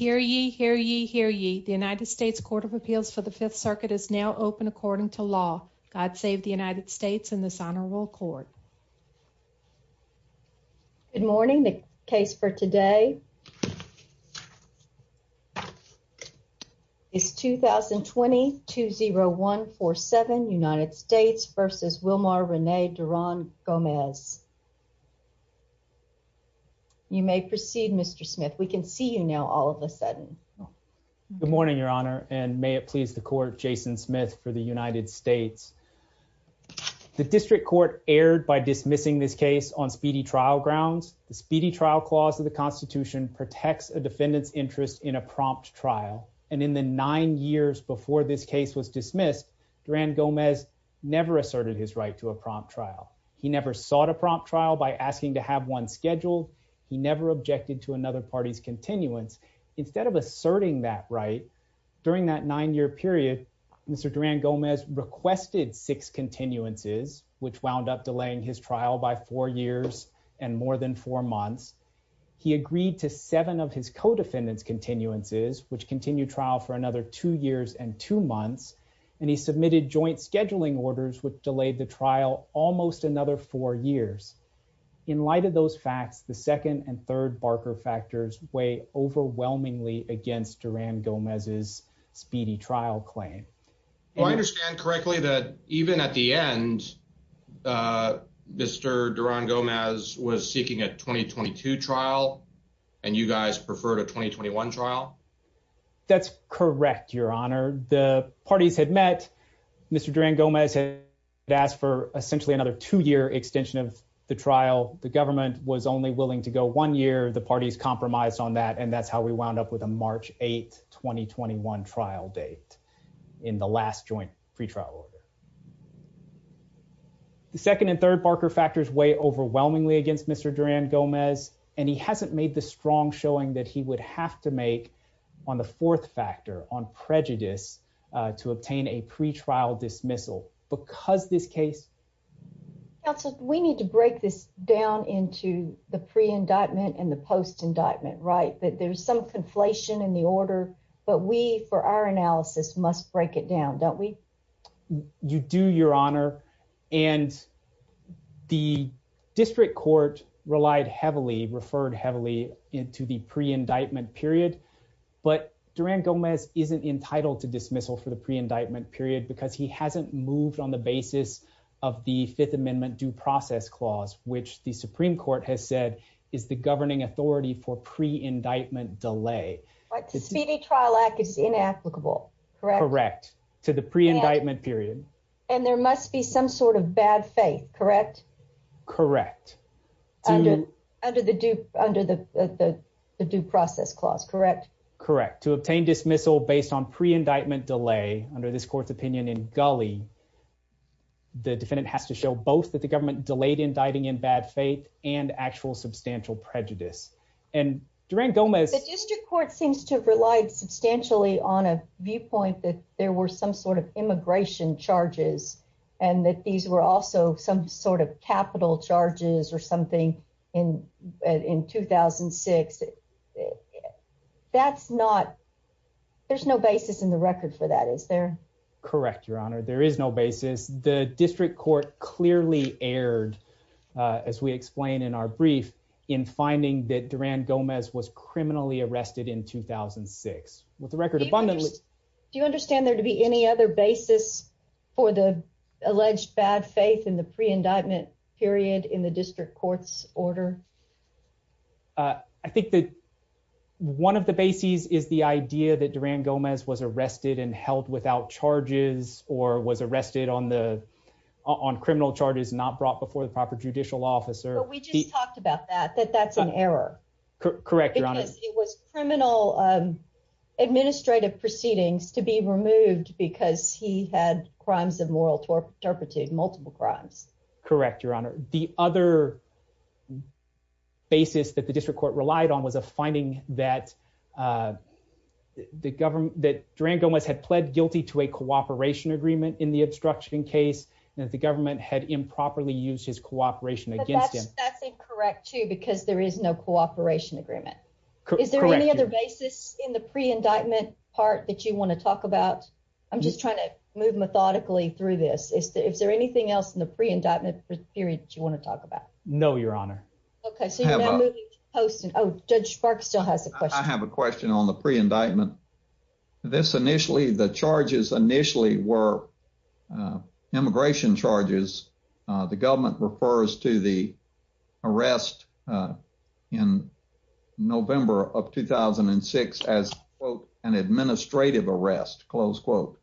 Hear ye, hear ye, hear ye. The United States Court of Appeals for the Fifth Circuit is now open according to law. God save the United States and this Honorable Court. Good morning. The case for today is 2020-20147 United States v. Wilmar Rene Duran-Gomez. You may proceed, Mr. Smith. We can see you now all of a sudden. Good morning, Your Honor, and may it please the Court, Jason Smith for the United States. The District Court erred by dismissing this case on speedy trial grounds. The Speedy Trial Clause of the Constitution protects a defendant's interest in a prompt trial. And in the nine years before this case was dismissed, Duran-Gomez never asserted his right to a prompt trial. He never sought a prompt trial by asking to have one scheduled. He never objected to another party's continuance. Instead of asserting that right, during that nine-year period, Mr. Duran-Gomez requested six continuances, which wound up delaying his trial by four years and more than four months. He agreed to seven of his co-defendants' continuances, which continued trial for another two years and two months. And he submitted joint scheduling orders, which delayed the trial almost another four years. In light of those facts, the second and third Barker factors weigh overwhelmingly against Duran-Gomez's speedy trial claim. Do I understand correctly that even at the end, Mr. Duran-Gomez was seeking a 2022 trial, and you guys preferred a 2021 trial? That's correct, Your Honor. The parties had met. Mr. Duran-Gomez had asked for essentially another two-year extension of the trial. While the government was only willing to go one year, the parties compromised on that, and that's how we wound up with a March 8, 2021 trial date in the last joint pretrial order. The second and third Barker factors weigh overwhelmingly against Mr. Duran-Gomez, and he hasn't made the strong showing that he would have to make, on the fourth factor, on prejudice, to obtain a pretrial dismissal. Counsel, we need to break this down into the pre-indictment and the post-indictment, right? There's some conflation in the order, but we, for our analysis, must break it down, don't we? You do, Your Honor. And the district court relied heavily, referred heavily, into the pre-indictment period. But Duran-Gomez isn't entitled to dismissal for the pre-indictment period because he hasn't moved on the basis of the Fifth Amendment due process clause, which the Supreme Court has said is the governing authority for pre-indictment delay. The Speedy Trial Act is inapplicable, correct? Correct, to the pre-indictment period. And there must be some sort of bad faith, correct? Correct. Under the due process clause, correct? Correct. To obtain dismissal based on pre-indictment delay, under this court's opinion in Gulley, the defendant has to show both that the government delayed indicting in bad faith and actual substantial prejudice. The district court seems to have relied substantially on a viewpoint that there were some sort of immigration charges and that these were also some sort of capital charges or something in 2006. That's not, there's no basis in the records for that, is there? Correct, Your Honor. There is no basis. The district court clearly erred, as we explain in our brief, in finding that Duran-Gomez was criminally arrested in 2006. Do you understand there to be any other basis for the alleged bad faith in the pre-indictment period in the district court's order? I think that one of the bases is the idea that Duran-Gomez was arrested and held without charges or was arrested on criminal charges not brought before the proper judicial officer. But we just talked about that, that that's an error. Correct, Your Honor. It was criminal administrative proceedings to be removed because he had crimes of moral turpitude, multiple crimes. Correct, Your Honor. The other basis that the district court relied on was a finding that Duran-Gomez had pled guilty to a cooperation agreement in the obstruction case and that the government had improperly used his cooperation against him. That's incorrect too because there is no cooperation agreement. Correct. Is there any other basis in the pre-indictment part that you want to talk about? I'm just trying to move methodically through this. Is there anything else in the pre-indictment period that you want to talk about? No, Your Honor. Okay. Oh, Judge Sparks still has a question. I have a question on the pre-indictment. The charges initially were immigration charges. The government refers to the arrest in November of 2006 as, quote, an administrative arrest, close quote.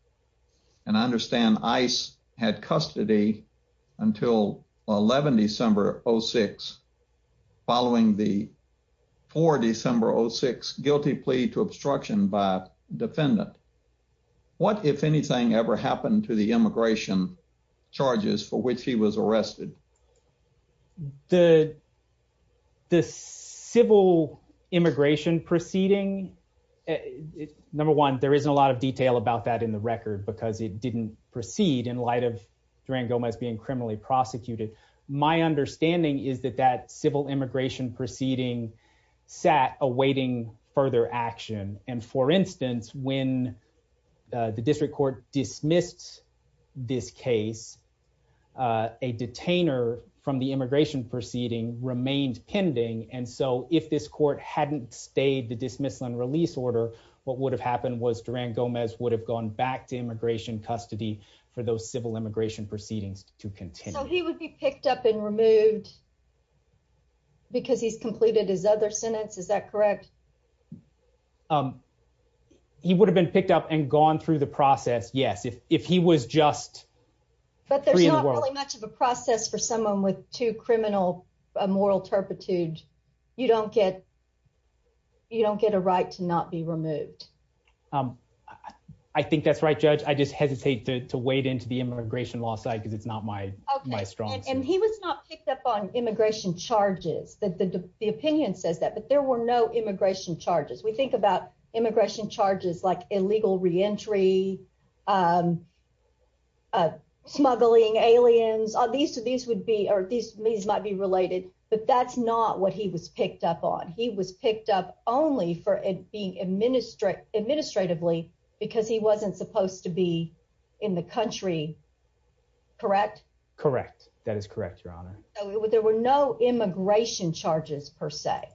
And I understand ICE had custody until 11 December 2006 following the 4 December 2006 guilty plea to obstruction by a defendant. What, if anything, ever happened to the immigration charges for which he was arrested? The civil immigration proceeding, number one, there isn't a lot of detail about that in the record because it didn't proceed in light of Duran-Gomez being criminally prosecuted. My understanding is that that civil immigration proceeding sat awaiting further action. And, for instance, when the district court dismissed this case, a detainer from the immigration proceeding remained pending. And so if this court hadn't stayed to dismiss and release order, what would have happened was Duran-Gomez would have gone back to immigration custody for those civil immigration proceedings to continue. So he would be picked up and removed because he's completed his other sentence. Is that correct? He would have been picked up and gone through the process, yes, if he was just free in the world. But there's not really much of a process for someone with too criminal a moral turpitude. You don't get a right to not be removed. I think that's right, Judge. I just hesitate to wade into the immigration law side because it's not my strong suit. And he was not picked up on immigration charges. The opinion says that, but there were no immigration charges. We think about immigration charges like illegal reentry, smuggling aliens. These might be related, but that's not what he was picked up on. He was picked up only for being administratively because he wasn't supposed to be in the country, correct? Correct. That is correct, Your Honor. There were no immigration charges per se.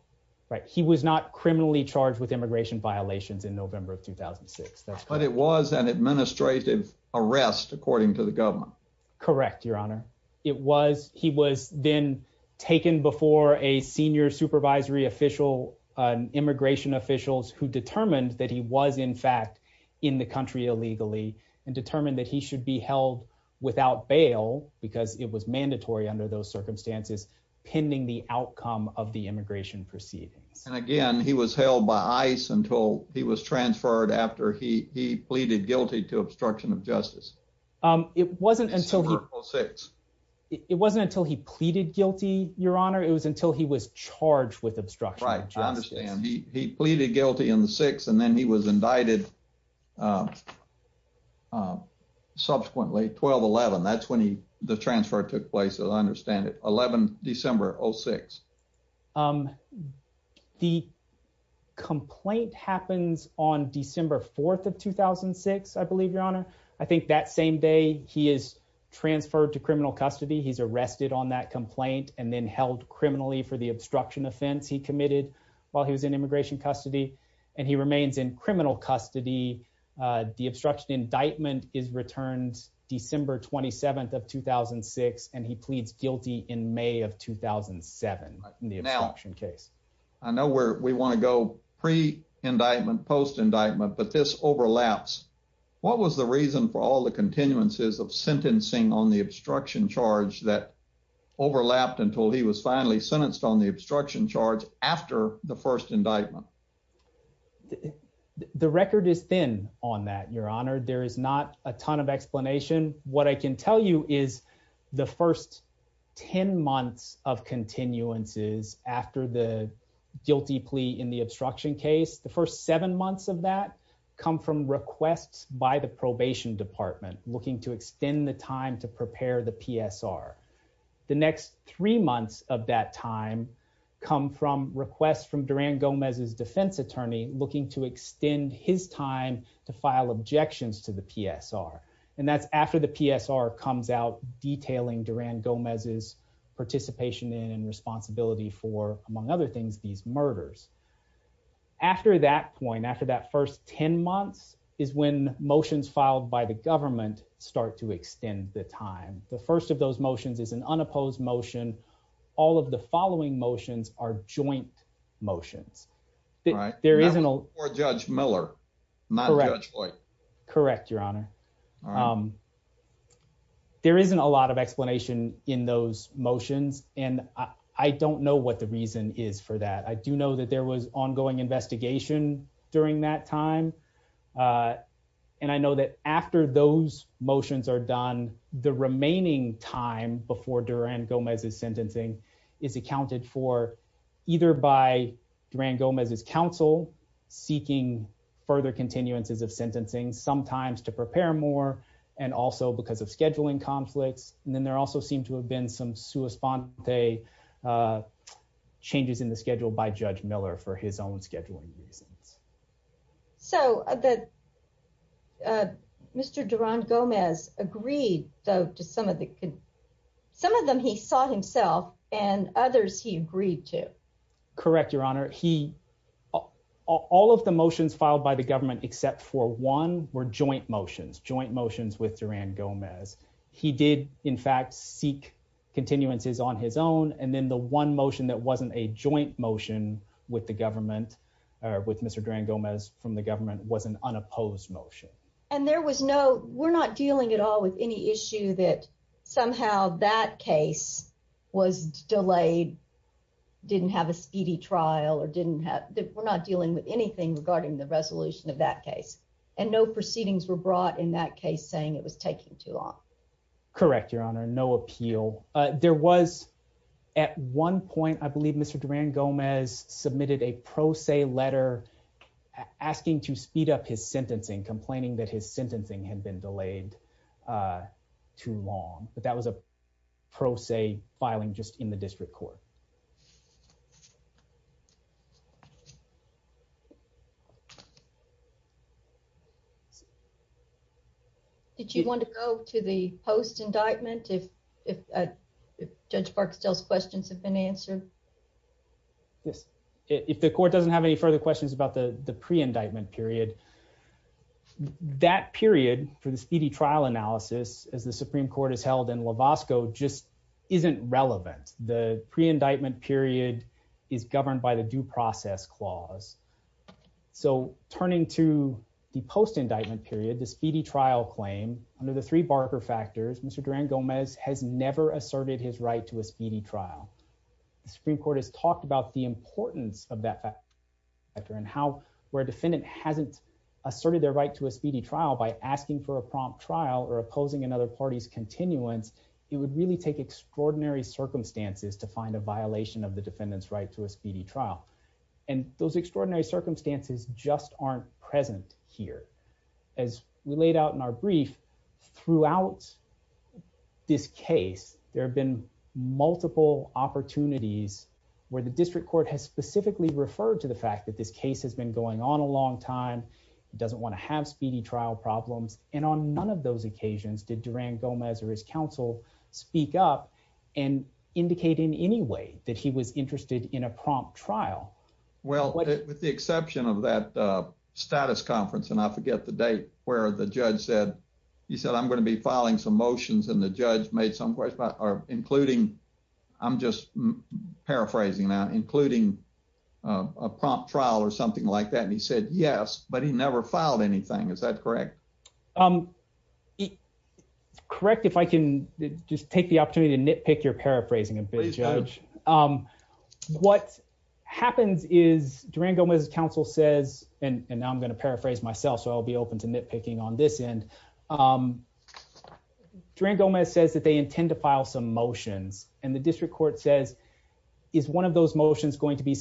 Right. He was not criminally charged with immigration violations in November of 2006. But it was an administrative arrest according to the government. Correct, Your Honor. He was then taken before a senior supervisory immigration official who determined that he was, in fact, in the country illegally and determined that he should be held without bail because it was mandatory under those circumstances pending the outcome of the immigration proceedings. And again, he was held by ICE until he was transferred after he pleaded guilty to obstruction of justice. December of 2006. It wasn't until he pleaded guilty, Your Honor. It was until he was charged with obstruction of justice. Right. I understand. He pleaded guilty in the 6th, and then he was indicted subsequently, 12-11. That's when the transfer took place, as I understand it, 11 December of 2006. The complaint happens on December 4th of 2006, I believe, Your Honor. I think that same day he is transferred to criminal custody. He's arrested on that complaint and then held criminally for the obstruction offense he committed while he was in immigration custody. And he remains in criminal custody. The obstruction indictment returns December 27th of 2006, and he pleads guilty in May of 2007 in the obstruction case. Now, I know we want to go pre-indictment, post-indictment, but this overlaps. What was the reason for all the continuances of sentencing on the obstruction charge that overlapped until he was finally sentenced on the obstruction charge after the first indictment? The record is thin on that, Your Honor. There is not a ton of explanation. What I can tell you is the first 10 months of continuances after the guilty plea in the obstruction case, the first seven months of that come from requests by the probation department looking to extend the time to prepare the PSR. The next three months of that time come from requests from Duran Gomez's defense attorney looking to extend his time to file objections to the PSR. And that's after the PSR comes out detailing Duran Gomez's participation in and responsibility for, among other things, these murders. After that point, after that first 10 months, is when motions filed by the government start to extend the time. The first of those motions is an unopposed motion. All of the following motions are joint motions. All right. Or Judge Miller, not Judge Blake. Correct, Your Honor. All right. There isn't a lot of explanation in those motions, and I don't know what the reason is for that. I do know that there was ongoing investigation during that time. And I know that after those motions are done, the remaining time before Duran Gomez's sentencing is accounted for either by Duran Gomez's counsel seeking further continuances of sentencing, sometimes to prepare more, and also because of scheduling conflicts. And then there also seemed to have been some sui sponte changes in the schedule by Judge Miller for his own scheduling. So Mr. Duran Gomez agreed, though, to some of the – some of them he saw himself, and others he agreed to. Correct, Your Honor. He – all of the motions filed by the government except for one were joint motions, joint motions with Duran Gomez. He did, in fact, seek continuances on his own, and then the one motion that wasn't a joint motion with the government – with Mr. Duran Gomez from the government was an unopposed motion. And there was no – we're not dealing at all with any issue that somehow that case was delayed, didn't have a speedy trial, or didn't have – we're not dealing with anything regarding the resolution of that case. And no proceedings were brought in that case saying it was taking too long. Correct, Your Honor. No appeal. There was – at one point, I believe, Mr. Duran Gomez submitted a pro se letter asking to speed up his sentencing, complaining that his sentencing had been delayed too long. But that was a pro se filing just in the district court. Did you want to go to the post-indictment, if Judge Barksdale's questions have been answered? Yes. If the court doesn't have any further questions about the pre-indictment period, that period for the speedy trial analysis, as the Supreme Court has held in Wasco, just isn't relevant. The pre-indictment period is governed by the due process clause. So turning to the post-indictment period, the speedy trial claim, under the three Barker factors, Mr. Duran Gomez has never asserted his right to a speedy trial. The Supreme Court has talked about the importance of that factor and how where a defendant hasn't asserted their right to a speedy trial by asking for a prompt trial or opposing another party's continuance, it would really take extraordinary circumstances to find a violation of the defendant's right to a speedy trial. And those extraordinary circumstances just aren't present here. As we laid out in our brief, throughout this case, there have been multiple opportunities where the district court has specifically referred to the fact that this case has been going on a long time, doesn't want to have speedy trial problems. And on none of those occasions did Duran Gomez or his counsel speak up and indicate in any way that he was interested in a prompt trial. Well, with the exception of that status conference, and I forget the date where the judge said, he said, I'm going to be filing some motions and the judge made some questions, including, I'm just paraphrasing now, including a prompt trial or something like that. And he said, yes, but he never filed anything. Is that correct? Correct, if I can just take the opportunity to nitpick your paraphrasing. What happens is Duran Gomez's counsel says, and I'm going to paraphrase myself so I'll be open to nitpicking on this end. Duran Gomez says that they intend to file some motion and the district court says, is one of those motions going to be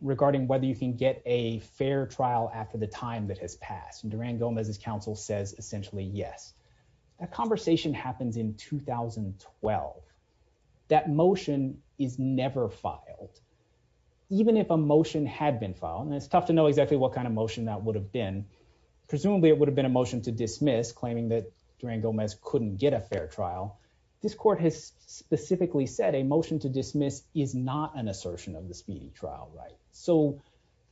regarding whether you can get a fair trial after the time that has passed? And Duran Gomez's counsel says, essentially, yes. That conversation happened in 2012. That motion is never filed. Even if a motion had been filed, and it's tough to know exactly what kind of motion that would have been. Presumably it would have been a motion to dismiss, claiming that Duran Gomez couldn't get a fair trial. This court has specifically said a motion to dismiss is not an assertion of the speedy trial right. So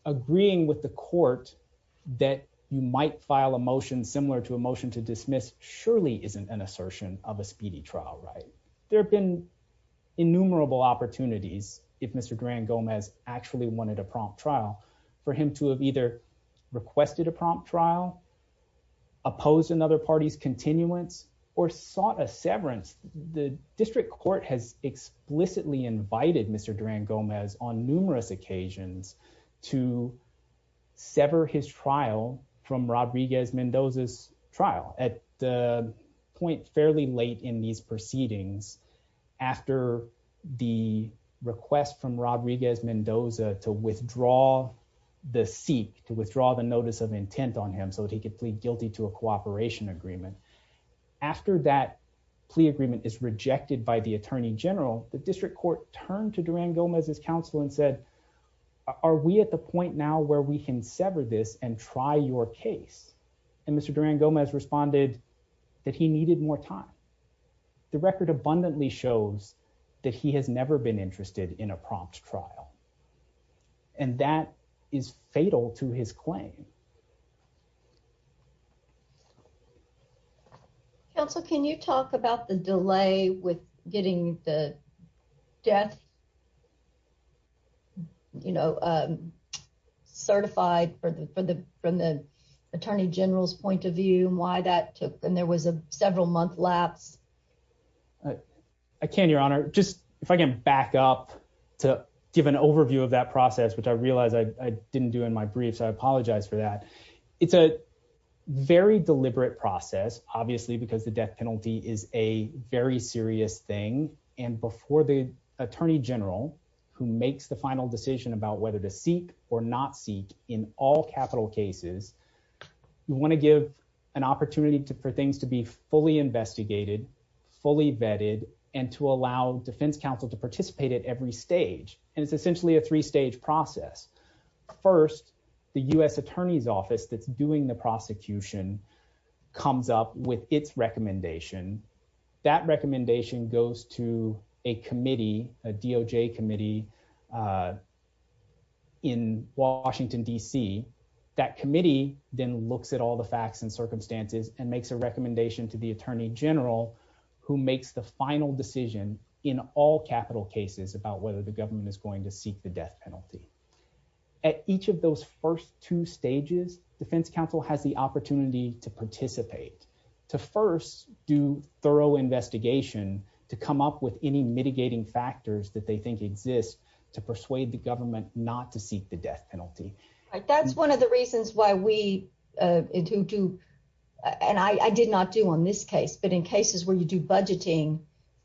agreeing with the court that you might file a motion similar to a motion to dismiss surely isn't an assertion of a speedy trial right. There have been innumerable opportunities if Mr. Duran Gomez actually wanted a prompt trial for him to have either requested a prompt trial, opposed another party's continuance, or sought a severance. The district court has explicitly invited Mr. Duran Gomez on numerous occasions to sever his trial from Rodriguez-Mendoza's trial at the point fairly late in these proceedings after the request from Rodriguez-Mendoza to withdraw the seek, to withdraw the notice of intent on him so that he could plead guilty to a cooperation agreement. After that plea agreement is rejected by the Attorney General, the district court turned to Duran Gomez's counsel and said, are we at the point now where we can sever this and try your case? And Mr. Duran Gomez responded that he needed more time. The record abundantly shows that he has never been interested in a prompt trial. And that is fatal to his claim. Counsel, can you talk about the delay with getting the death, you know, certified from the Attorney General's point of view and why that took, and there was a several month lap? I can, Your Honor. Just, if I can back up to give an overview of that process, which I realize I didn't do in my brief, so I apologize for that. It's a very deliberate process, obviously, because the death penalty is a very serious thing. And before the Attorney General, who makes the final decision about whether to seek or not seek in all capital cases, you want to give an opportunity for things to be fully investigated, fully vetted, and to allow defense counsel to participate at every stage. And it's essentially a three-stage process. First, the U.S. Attorney's Office that's doing the prosecution comes up with its recommendation. That recommendation goes to a committee, a DOJ committee in Washington, D.C. That committee then looks at all the facts and circumstances and makes a recommendation to the Attorney General, who makes the final decision in all capital cases about whether the government is going to seek the death penalty. At each of those first two stages, defense counsel has the opportunity to participate, to first do thorough investigation, to come up with any mitigating factors that they think exist to persuade the government not to seek the death penalty. That's one of the reasons why we do, and I did not do on this case, but in cases where you do budgeting,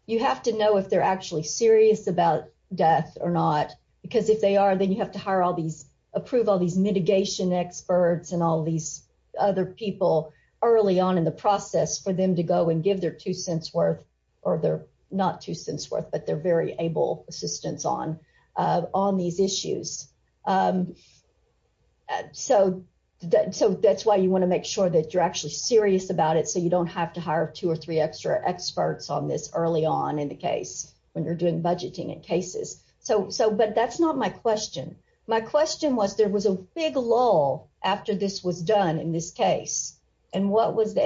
you have to know if they're actually serious about death or not. Because if they are, then you have to hire all these, approve all these mitigation experts and all these other people early on in the process for them to go and give their two cents worth, or their not two cents worth, but their very able assistance on these issues. That's why you want to make sure that you're actually serious about it so you don't have to hire two or three extra experts on this early on in the case when you're doing budgeting in cases. But that's not my question. My question was, there was a big lull after this was done in this case. And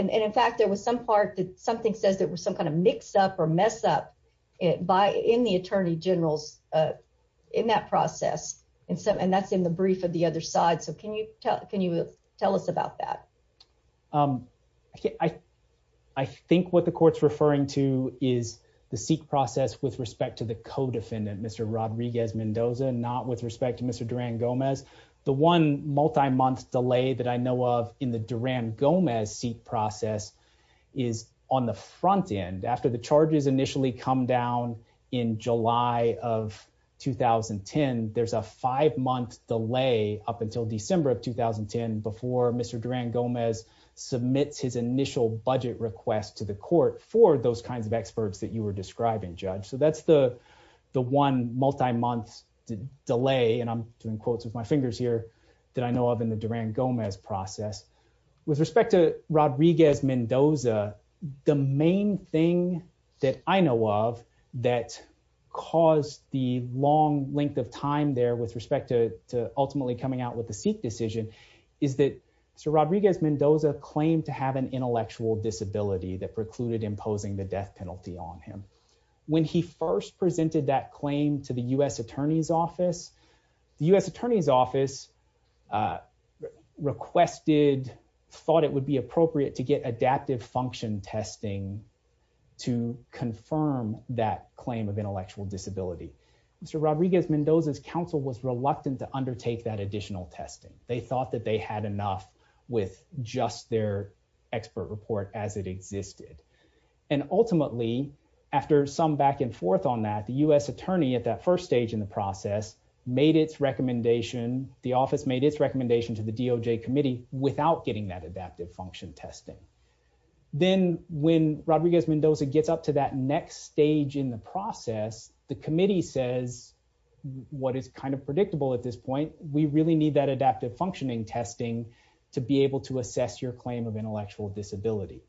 in fact, there was some part that something says there was some kind of mix up or mess up in the attorney general's, in that process, and that's in the brief of the other side. So can you tell us about that? I think what the court's referring to is the SEQ process with respect to the co-defendant, Mr. Rodriguez-Mendoza, not with respect to Mr. Duran-Gomez. The one multi-month delay that I know of in the Duran-Gomez SEQ process is on the front end. After the charges initially come down in July of 2010, there's a five-month delay up until December of 2010 before Mr. Duran-Gomez submits his initial budget request to the court for those kinds of experts that you were describing, Judge. So that's the one multi-month delay, and I'm doing quotes with my fingers here, that I know of in the Duran-Gomez process. With respect to Rodriguez-Mendoza, the main thing that I know of that caused the long length of time there with respect to ultimately coming out with the SEQ decision is that Mr. Rodriguez-Mendoza claimed to have an intellectual disability that precluded imposing the death penalty on him. When he first presented that claim to the U.S. Attorney's Office, the U.S. Attorney's Office requested, thought it would be appropriate to get adaptive function testing to confirm that claim of intellectual disability. Mr. Rodriguez-Mendoza's counsel was reluctant to undertake that additional testing. They thought that they had enough with just their expert report as it existed. And ultimately, after some back and forth on that, the U.S. Attorney at that first stage in the process made its recommendation, the office made its recommendation to the DOJ committee without getting that adaptive function testing. Then when Rodriguez-Mendoza gets up to that next stage in the process, the committee says what is kind of predictable at this point, we really need that adaptive functioning testing to be able to assess your claim of intellectual disability.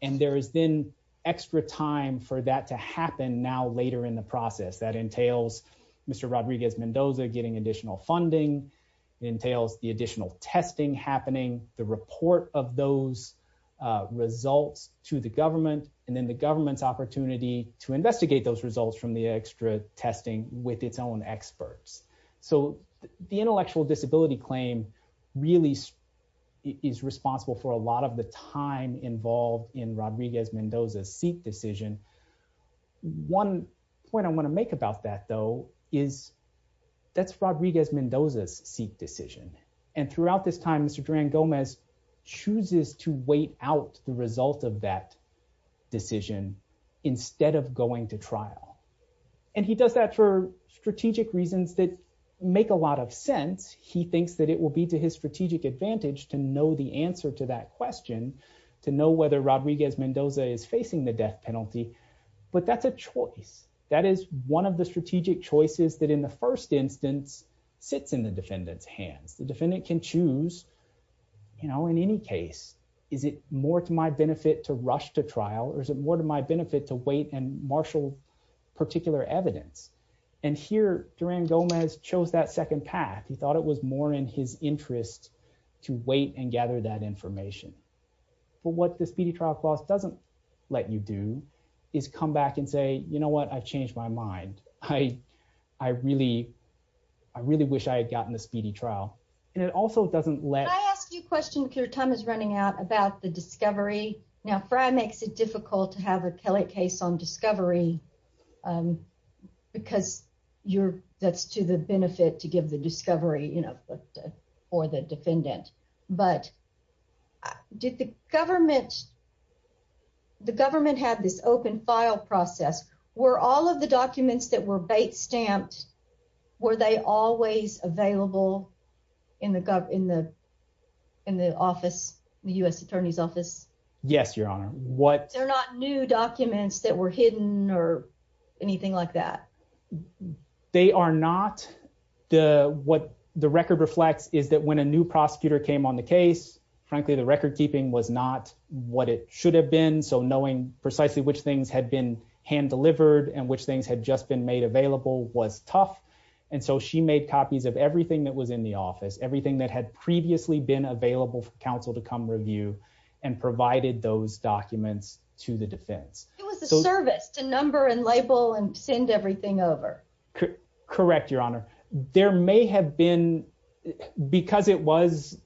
And there has been extra time for that to happen now later in the process. That entails Mr. Rodriguez-Mendoza getting additional funding, entails the additional testing happening, the report of those results to the government, and then the government's opportunity to investigate those results from the extra testing with its own experts. So the intellectual disability claim really is responsible for a lot of the time involved in Rodriguez-Mendoza's Seek decision. One point I want to make about that, though, is that's Rodriguez-Mendoza's Seek decision. And throughout this time, Mr. Duran-Gomez chooses to wait out the result of that decision instead of going to trial. And he does that for strategic reasons that make a lot of sense. He thinks that it will be to his strategic advantage to know the answer to that question, to know whether Rodriguez-Mendoza is facing the death penalty. But that's a choice. That is one of the strategic choices that in the first instance fits in the defendant's hand. The defendant can choose, you know, in any case, is it more to my benefit to rush to trial or is it more to my benefit to wait and marshal particular evidence? And here, Duran-Gomez chose that second path. He thought it was more in his interest to wait and gather that information. But what the speedy trial clause doesn't let you do is come back and say, you know what, I changed my mind. I really wish I had gotten the speedy trial. And it also doesn't let… I have a few questions. Your time is running out about the discovery. Now, Frey makes it difficult to have a Kelly case on discovery because that's to the benefit to give the discovery, you know, for the defendant. But did the government have this open file process? Were all of the documents that were based stamped, were they always available in the office, the U.S. Attorney's office? Yes, Your Honor. What… They're not new documents that were hidden or anything like that? They are not. What the record reflects is that when a new prosecutor came on the case, frankly, the record keeping was not what it should have been. So knowing precisely which things had been hand-delivered and which things had just been made available was tough. And so she made copies of everything that was in the office, everything that had previously been available for counsel to come review and provided those documents to the defense. It was a service, a number and label and send everything over. Correct, Your Honor. There may have been, because it was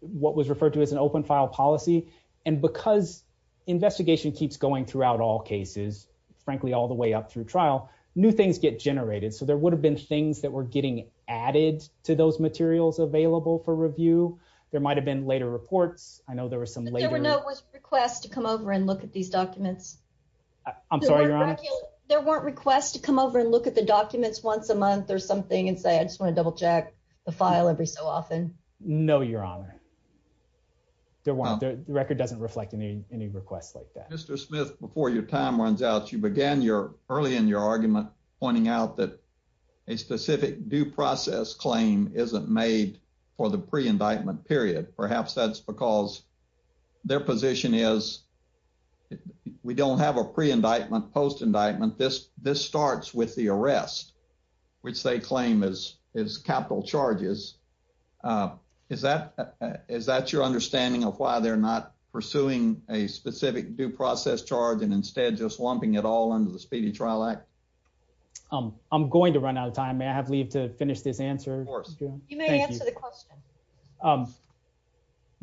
what was referred to as an open file policy, and because investigation keeps going throughout all cases, frankly, all the way up through trial, new things get generated. So there would have been things that were getting added to those materials available for review. There might have been later reports. I know there were some later… I'm sorry, Your Honor? There weren't requests to come over and look at the documents once a month or something and say, I just want to double-check the file every so often? No, Your Honor. The record doesn't reflect any requests like that. Mr. Smith, before your time runs out, you began early in your argument pointing out that a specific due process claim isn't made for the pre-indictment period. Perhaps that's because their position is we don't have a pre-indictment, post-indictment. This starts with the arrest, which they claim is capital charges. Is that your understanding of why they're not pursuing a specific due process charge and instead just lumping it all under the Speedy Trial Act? I'm going to run out of time. May I have leave to finish this answer? Of course. You may answer the question.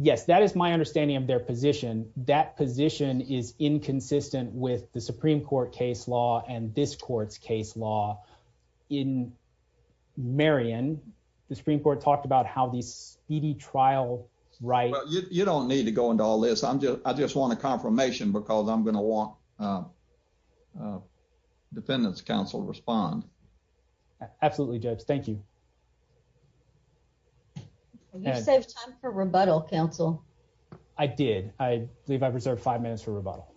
Yes, that is my understanding of their position. That position is inconsistent with the Supreme Court case law and this court's case law. In Marion, the Supreme Court talked about how the Speedy Trial right… You don't need to go into all this. I just want a confirmation because I'm going to want the Dependents' Council to respond. Absolutely, Judge. Thank you. You said time for rebuttal, counsel. I did. I believe I preserved five minutes for rebuttal.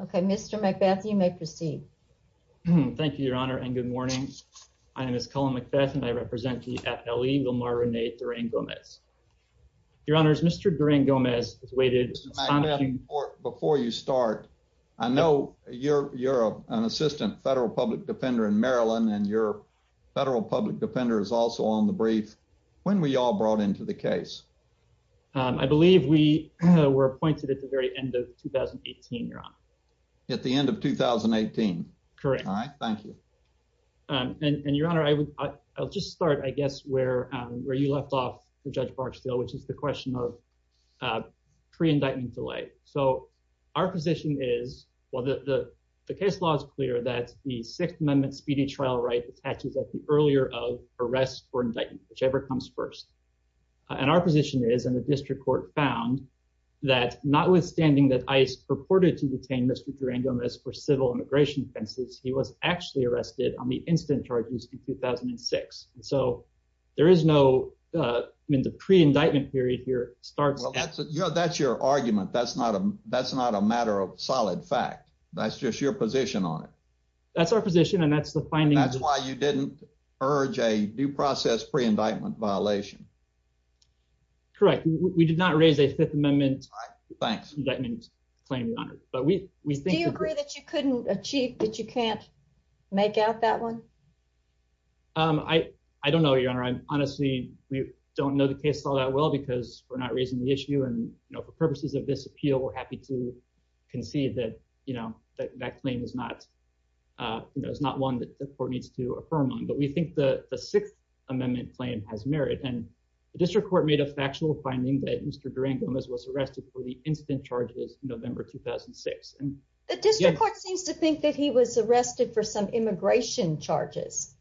Okay. Mr. McBeth, you may proceed. Thank you, Your Honor, and good morning. My name is Colin McBeth and I represent DFLE, Lamar Rene Duran-Gomez. Your Honor, Mr. Duran-Gomez has waited… Before you start, I know you're an assistant federal public defender in Maryland and your federal public defender is also on the brief. When were you all brought into the case? I believe we were appointed at the very end of 2018, Your Honor. At the end of 2018? Correct. All right. Thank you. And, Your Honor, I'll just start, I guess, where you left off, Judge Barksdale, which is the question of pre-indictment delay. So our position is, well, the case law is clear that the Sixth Amendment Speedy Trial right attaches at the earlier of arrest or indictment, whichever comes first. And our position is, and the district court found, that notwithstanding that ICE purported to detain Mr. Duran-Gomez for civil immigration offenses, he was actually arrested on the instant charges in 2006. So there is no… I mean, the pre-indictment period here starts… That's your argument. That's not a matter of solid fact. That's just your position on it. That's our position and that's the findings… Do you urge a due process pre-indictment violation? Correct. We did not raise a Fifth Amendment indictment claim, Your Honor. Do you agree that you couldn't achieve, that you can't make out that one? I don't know, Your Honor. Honestly, we don't know the case law that well because we're not raising the issue and, you know, for purposes of this appeal, we're happy to concede that, you know, that claim is not… But we think the Sixth Amendment claim has merit and the district court made a factual finding that Mr. Duran-Gomez was arrested for the instant charges in November 2006. The district court seems to think that he was arrested for some immigration charges.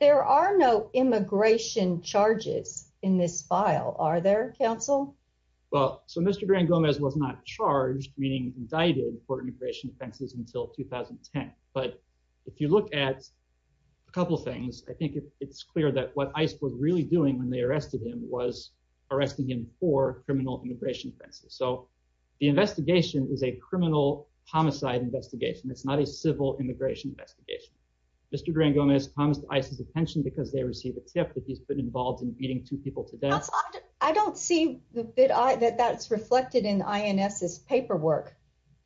There are no immigration charges in this file, are there, counsel? Well, so Mr. Duran-Gomez was not charged, meaning indicted, for immigration offenses until 2010. But if you look at a couple things, I think it's clear that what ICE was really doing when they arrested him was arresting him for criminal immigration offenses. So the investigation is a criminal homicide investigation. It's not a civil immigration investigation. Mr. Duran-Gomez comes to ICE's attention because they received a tip that he's been involved in beating two people to death. I don't see that that's reflected in INF's paperwork.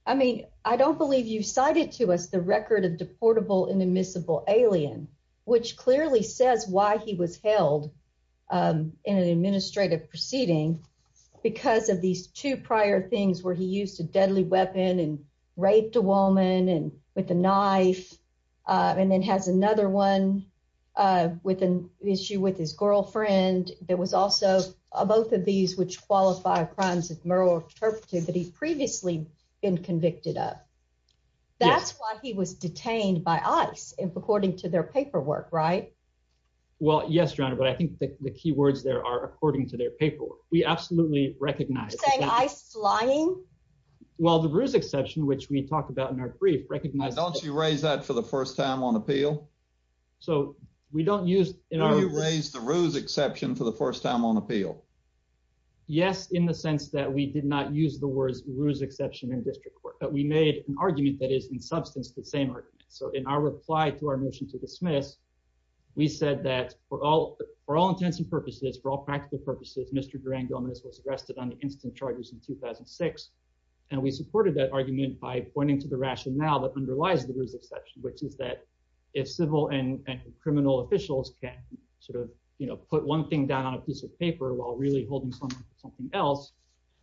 I mean, I don't believe you cited to us the record of deportable inadmissible alien, which clearly says why he was held in an administrative proceeding because of these two prior things where he used a deadly weapon and raped a woman with a knife and then has another one with an issue with his girlfriend. There was also both of these which qualify crimes as moral interpretive that he's previously been convicted of. That's why he was detained by ICE according to their paperwork, right? Well, yes, Your Honor, but I think the key words there are according to their paperwork. We absolutely recognize that. Are you saying ICE is lying? Well, the ruse exception, which we talked about in our brief, recognize that... Don't you raise that for the first time on appeal? So we don't use... No, you raised the ruse exception for the first time on appeal. Yes, in the sense that we did not use the words ruse exception in district court, but we made an argument that is in substance the same argument. So in our reply to our motion to dismiss, we said that for all intents and purposes, for all practical purposes, Mr. Durangonis was arrested on the incident charges in 2006. And we supported that argument by pointing to the rationale that underlies the ruse exception, which is that if civil and criminal officials can't sort of put one thing down on a piece of paper while really holding something else,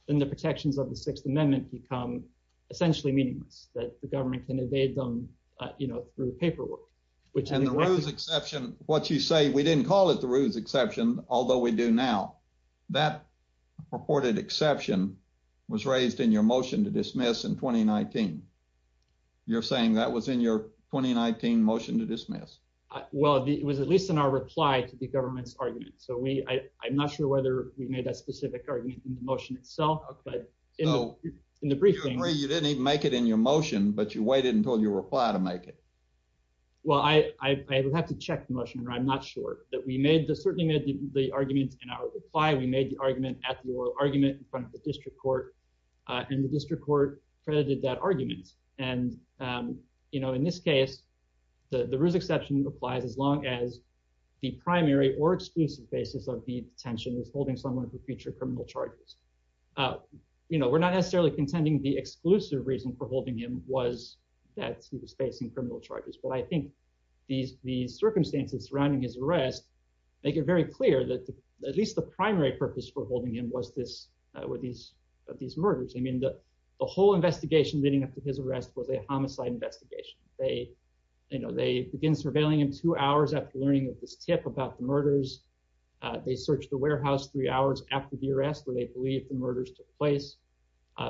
then the protections of the Sixth Amendment become essentially meaningless, that the government can evade them, you know, through paperwork. And the ruse exception, what you say, we didn't call it the ruse exception, although we do now, that purported exception was raised in your motion to dismiss in 2019. You're saying that was in your 2019 motion to dismiss? Well, it was at least in our reply to the government's argument. So I'm not sure whether we made that specific argument in the motion itself, but in the briefing— So you agree you didn't even make it in your motion, but you waited until your reply to make it? Well, I would have to check the motion, but I'm not sure. We certainly made the argument in our reply. We made the argument at the oral argument in front of the district court, and the district court credited that argument. And, you know, in this case, the ruse exception applied as long as the primary or exclusive basis of the detention was holding someone for future criminal charges. You know, we're not necessarily contending the exclusive reason for holding him was that he was facing criminal charges, but I think the circumstances surrounding his arrest make it very clear that at least the primary purpose for holding him was these murders. I mean, the whole investigation leading up to his arrest was a homicide investigation. They, you know, they began surveilling him two hours after learning of his tip about the murders. They searched the warehouse three hours after the arrest where they believed the murders took place.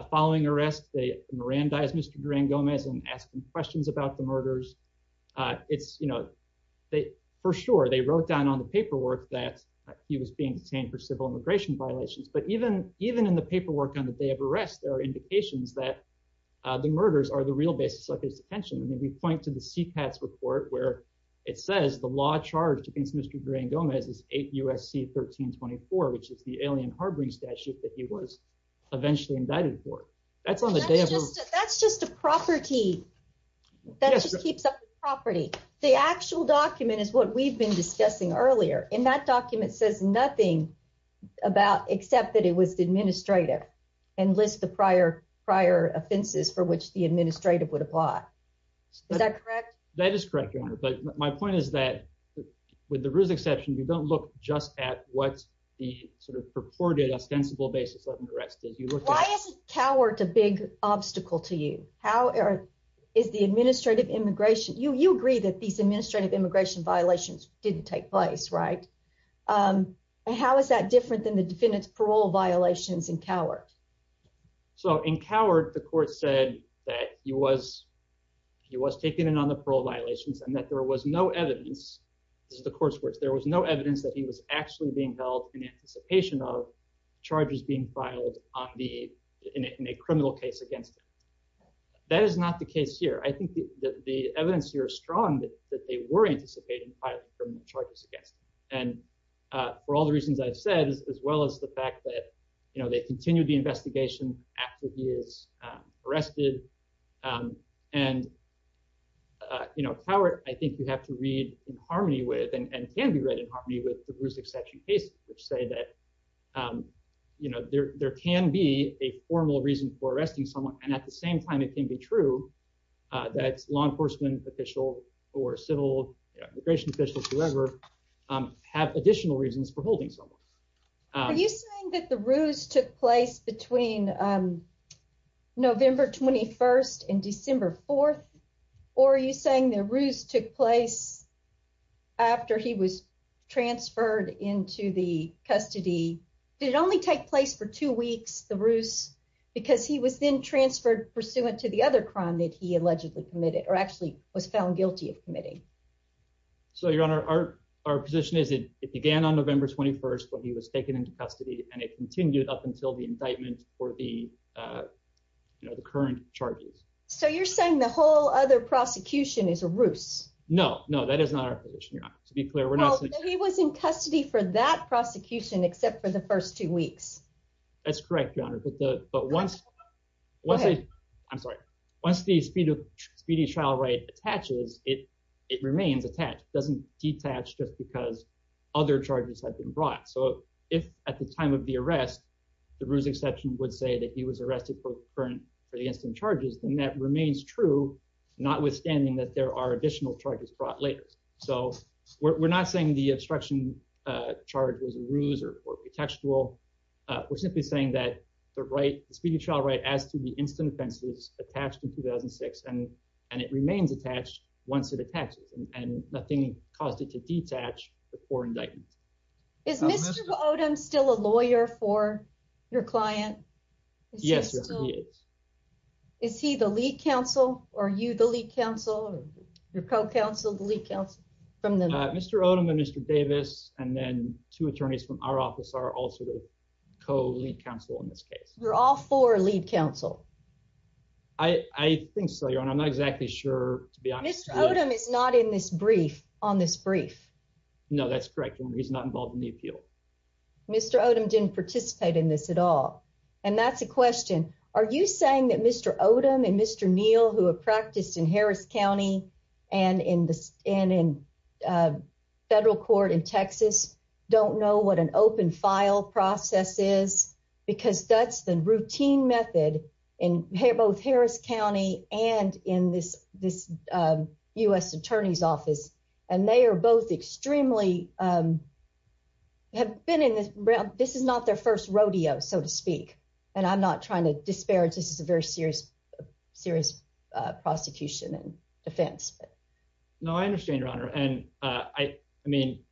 Following arrest, they Mirandized Mr. Duran-Gomez and asked him questions about the murders. It's, you know, for sure, they wrote down on the paperwork that he was being detained for civil immigration violations, but even in the paperwork on the day of arrest, there are indications that the murders are the real basis of his detention. I mean, we point to the CTAS report where it says the law charged against Mr. Duran-Gomez is 8 U.S.C. 1324, which is the alien harboring statute that he was eventually indicted for. That's just the property. That just keeps up the property. The actual document is what we've been discussing earlier, and that document says nothing about except that it was administrative and lists the prior offenses for which the administrative would apply. Is that correct? That is correct, Your Honor, but my point is that with the risk exception, you don't look just at what the sort of purported, Why is coward a big obstacle to you? How is the administrative immigration? You agree that these administrative immigration violations didn't take place, right? And how is that different than the defendant's parole violations in coward? So in coward, the court said that he was taking in on the parole violations and that there was no evidence. There was no evidence that he was actually being held in anticipation of charges being filed in a criminal case against him. That is not the case here. I think that the evidence here is strong that they were anticipating charges against him. And for all the reasons I've said, as well as the fact that, you know, they continued the investigation after he was arrested. And, you know, coward, I think you have to read in harmony with and can be read in harmony with the risk exception cases, which say that, you know, there can be a formal reason for arresting someone. And at the same time, it can be true that law enforcement officials or civil immigration officials, whoever, have additional reasons for holding someone. Are you saying that the ruse took place between November 21st and December 4th? Or are you saying the ruse took place after he was transferred into the custody? Did it only take place for two weeks, the ruse? Because he was then transferred pursuant to the other crime that he allegedly committed or actually was found guilty of committing. So, your Honor, our position is it began on November 21st, but he was taken into custody and it continued up until the indictment for the current charges. So, you're saying the whole other prosecution is a ruse? No, no, that is not our position, to be clear. He was in custody for that prosecution, except for the first two weeks. That's correct, Your Honor. But once... Go ahead. I'm sorry. Once the speedy trial right attaches, it remains attached. It doesn't detatch just because other charges have been brought. So, if at the time of the arrest, the ruse exception would say that he was arrested for the incident charges, then that remains true, notwithstanding that there are additional charges brought later. So, we're not saying the obstruction charge is a ruse or perpetual. We're simply saying that the speedy trial right adds to the incident offenses attached in 2006, and it remains attached once it attaches, and nothing caused it to detatch before indictment. Is Mr. Odom still a lawyer for your client? Yes, he is. Is he the lead counsel? Are you the lead counsel? Your co-counsel, the lead counsel? Mr. Odom and Mr. Davis, and then two attorneys from our office are also the co-lead counsel in this case. You're all four lead counsel. I think so, Your Honor. I'm not exactly sure, to be honest. Mr. Odom is not in this brief, on this brief. No, that's correct. He's not involved in the appeal. Mr. Odom didn't participate in this at all, and that's a question. Are you saying that Mr. Odom and Mr. Neal, who have practiced in Harris County and in federal court in Texas, don't know what an open file process is? Because that's the routine method in both Harris County and in this U.S. Attorney's Office. And they are both extremely, have been in this, this is not their first rodeo, so to speak. And I'm not trying to disparage, this is a very serious, serious prostitution offense. No, I understand, Your Honor. And I mean,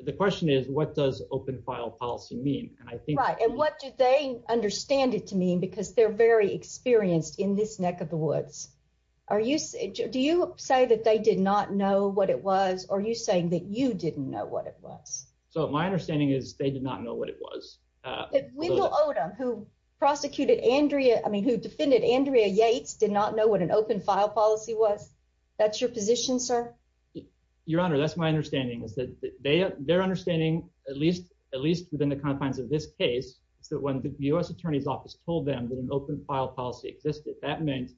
the question is, what does open file policy mean? Right, and what do they understand it to mean? Because they're very experienced in this neck of the woods. Are you, do you say that they did not know what it was, or are you saying that you didn't know what it was? So, my understanding is they did not know what it was. But Wendell Odom, who prosecuted Andrea, I mean, who defended Andrea Yates, did not know what an open file policy was? That's your position, sir? Your Honor, that's my understanding. Their understanding, at least within the confines of this case, that when the U.S. Attorney's Office told them that an open file policy existed, that meant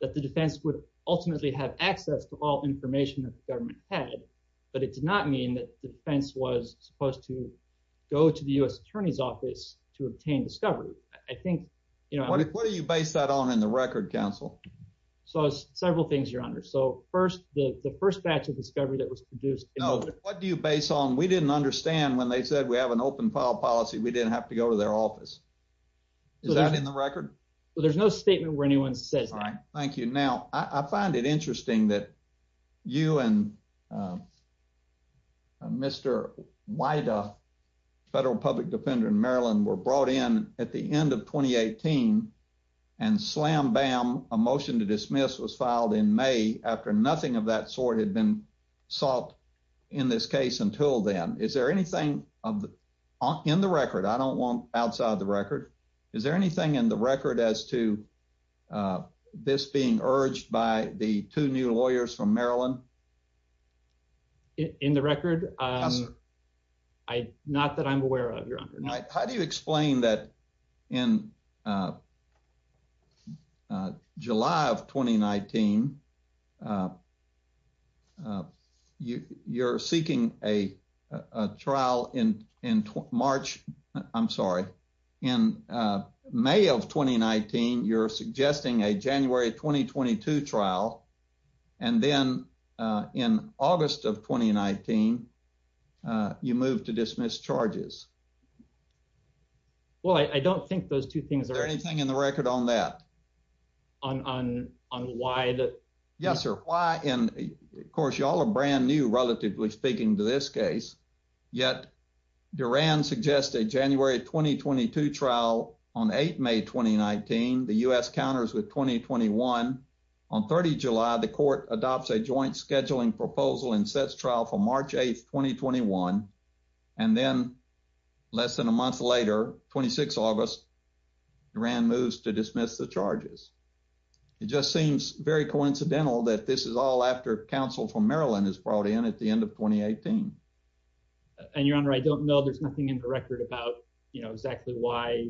that the defense would ultimately have access to all information that the government had. But it did not mean that the defense was supposed to go to the U.S. Attorney's Office to obtain discovery. I think, you know... What do you base that on in the record, counsel? Several things, Your Honor. So, first, the first batch of discovery that was produced... No, what do you base on? We didn't understand when they said we have an open file policy, we didn't have to go to their office. Is that in the record? There's no statement where anyone said that. Right, thank you. Now, I find it interesting that you and Mr. Wida, federal public defender in Maryland, were brought in at the end of 2018, and slam-bam, a motion to dismiss was filed in May after nothing of that sort had been sought in this case until then. Is there anything in the record? Is there anything in the record as to this being urged by the two new lawyers from Maryland? In the record? Not that I'm aware of, Your Honor. How do you explain that in July of 2019, you're seeking a trial in March... I'm sorry, in May of 2019, you're suggesting a January 2022 trial, and then in August of 2019, you move to dismiss charges. Well, I don't think those two things are... Is there anything in the record on that? On why the... Yes, sir, why, and of course, y'all are brand new, relatively speaking, to this case, yet Durand suggests a January 2022 trial on 8 May 2019. The U.S. counters with 2021. On 30 July, the court adopts a joint scheduling proposal and sets trial for March 8, 2021, and then less than a month later, 26 August, Durand moves to dismiss the charges. It just seems very coincidental that this is all after counsel from Maryland is brought in at the end of 2018. And, Your Honor, I don't know. There's nothing in the record about, you know, exactly why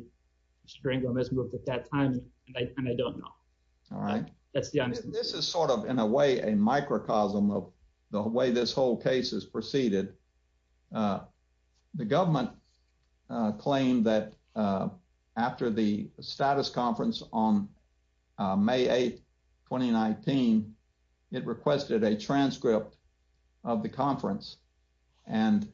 Strango missed work at that time, and I don't know. All right. That's the only... This is sort of, in a way, a microcosm of the way this whole case is preceded. The government claimed that after the status conference on May 8, 2019, it requested a transcript of the conference, and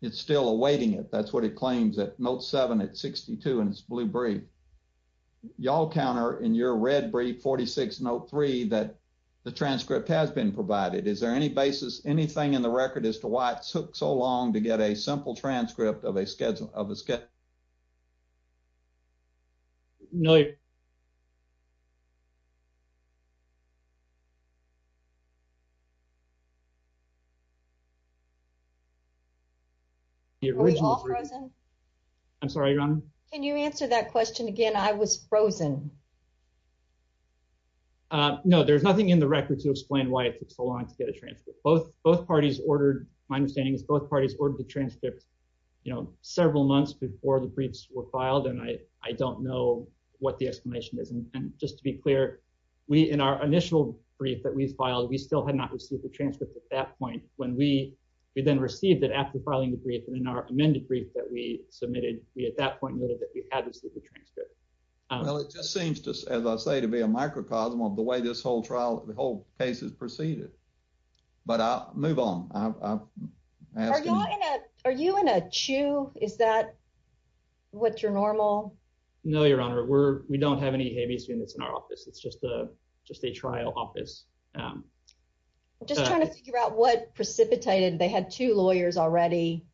it's still awaiting it. That's what it claims at Note 7 at 62 in its blue brief. Y'all counter in your red brief, 46 Note 3, that the transcript has been provided. Is there any basis, anything in the record as to why it took so long to get a simple transcript of the schedule? No. I'm sorry, Your Honor? Can you answer that question again? I was frozen. No, there's nothing in the record to explain why it took so long to get a transcript. Both parties ordered, my understanding is both parties ordered the transcript, you know, several months before the briefs were filed, and I don't know what the explanation is. And just to be clear, we, in our initial brief that we filed, we still had not received the transcript at that point. When we then received it after filing the brief and in our amended brief that we submitted, we at that point noted that we had received the transcript. Well, it just seems, as I say, to be a microcosm of the way this whole trial, the whole case has proceeded. But I'll move on. Are you in a chew? Is that what's your normal? No, Your Honor, we don't have any habeas in our office. It's just a trial office. I'm just trying to figure out what precipitated. They had two lawyers already.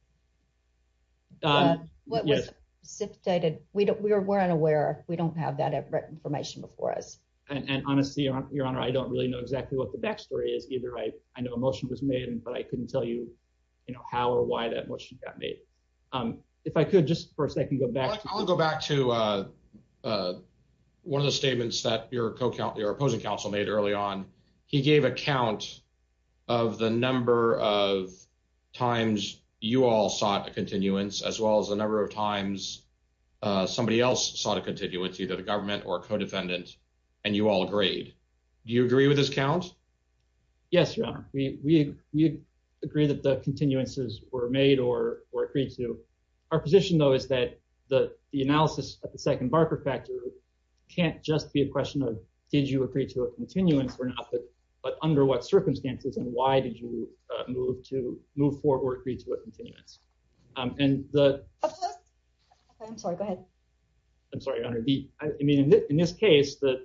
Yes. We weren't aware. We don't have that information before us. And honestly, Your Honor, I don't really know exactly what the backstory is either. I know a motion was made, but I couldn't tell you how or why that motion got made. If I could just for a second go back. I'll go back to one of the statements that your opposing counsel made early on. He gave a count of the number of times you all sought a continuance as well as the number of times somebody else sought a continuance, either the government or a co-defendant, and you all agreed. Do you agree with this count? Yes, Your Honor. We agree that the continuances were made or agreed to. Our position, though, is that the analysis of the second Barker factor can't just be a question of did you agree to a continuance or not, but under what circumstances and why did you move forward or agree to a continuance? I'm sorry, go ahead. I'm sorry, Your Honor. I mean, in this case, the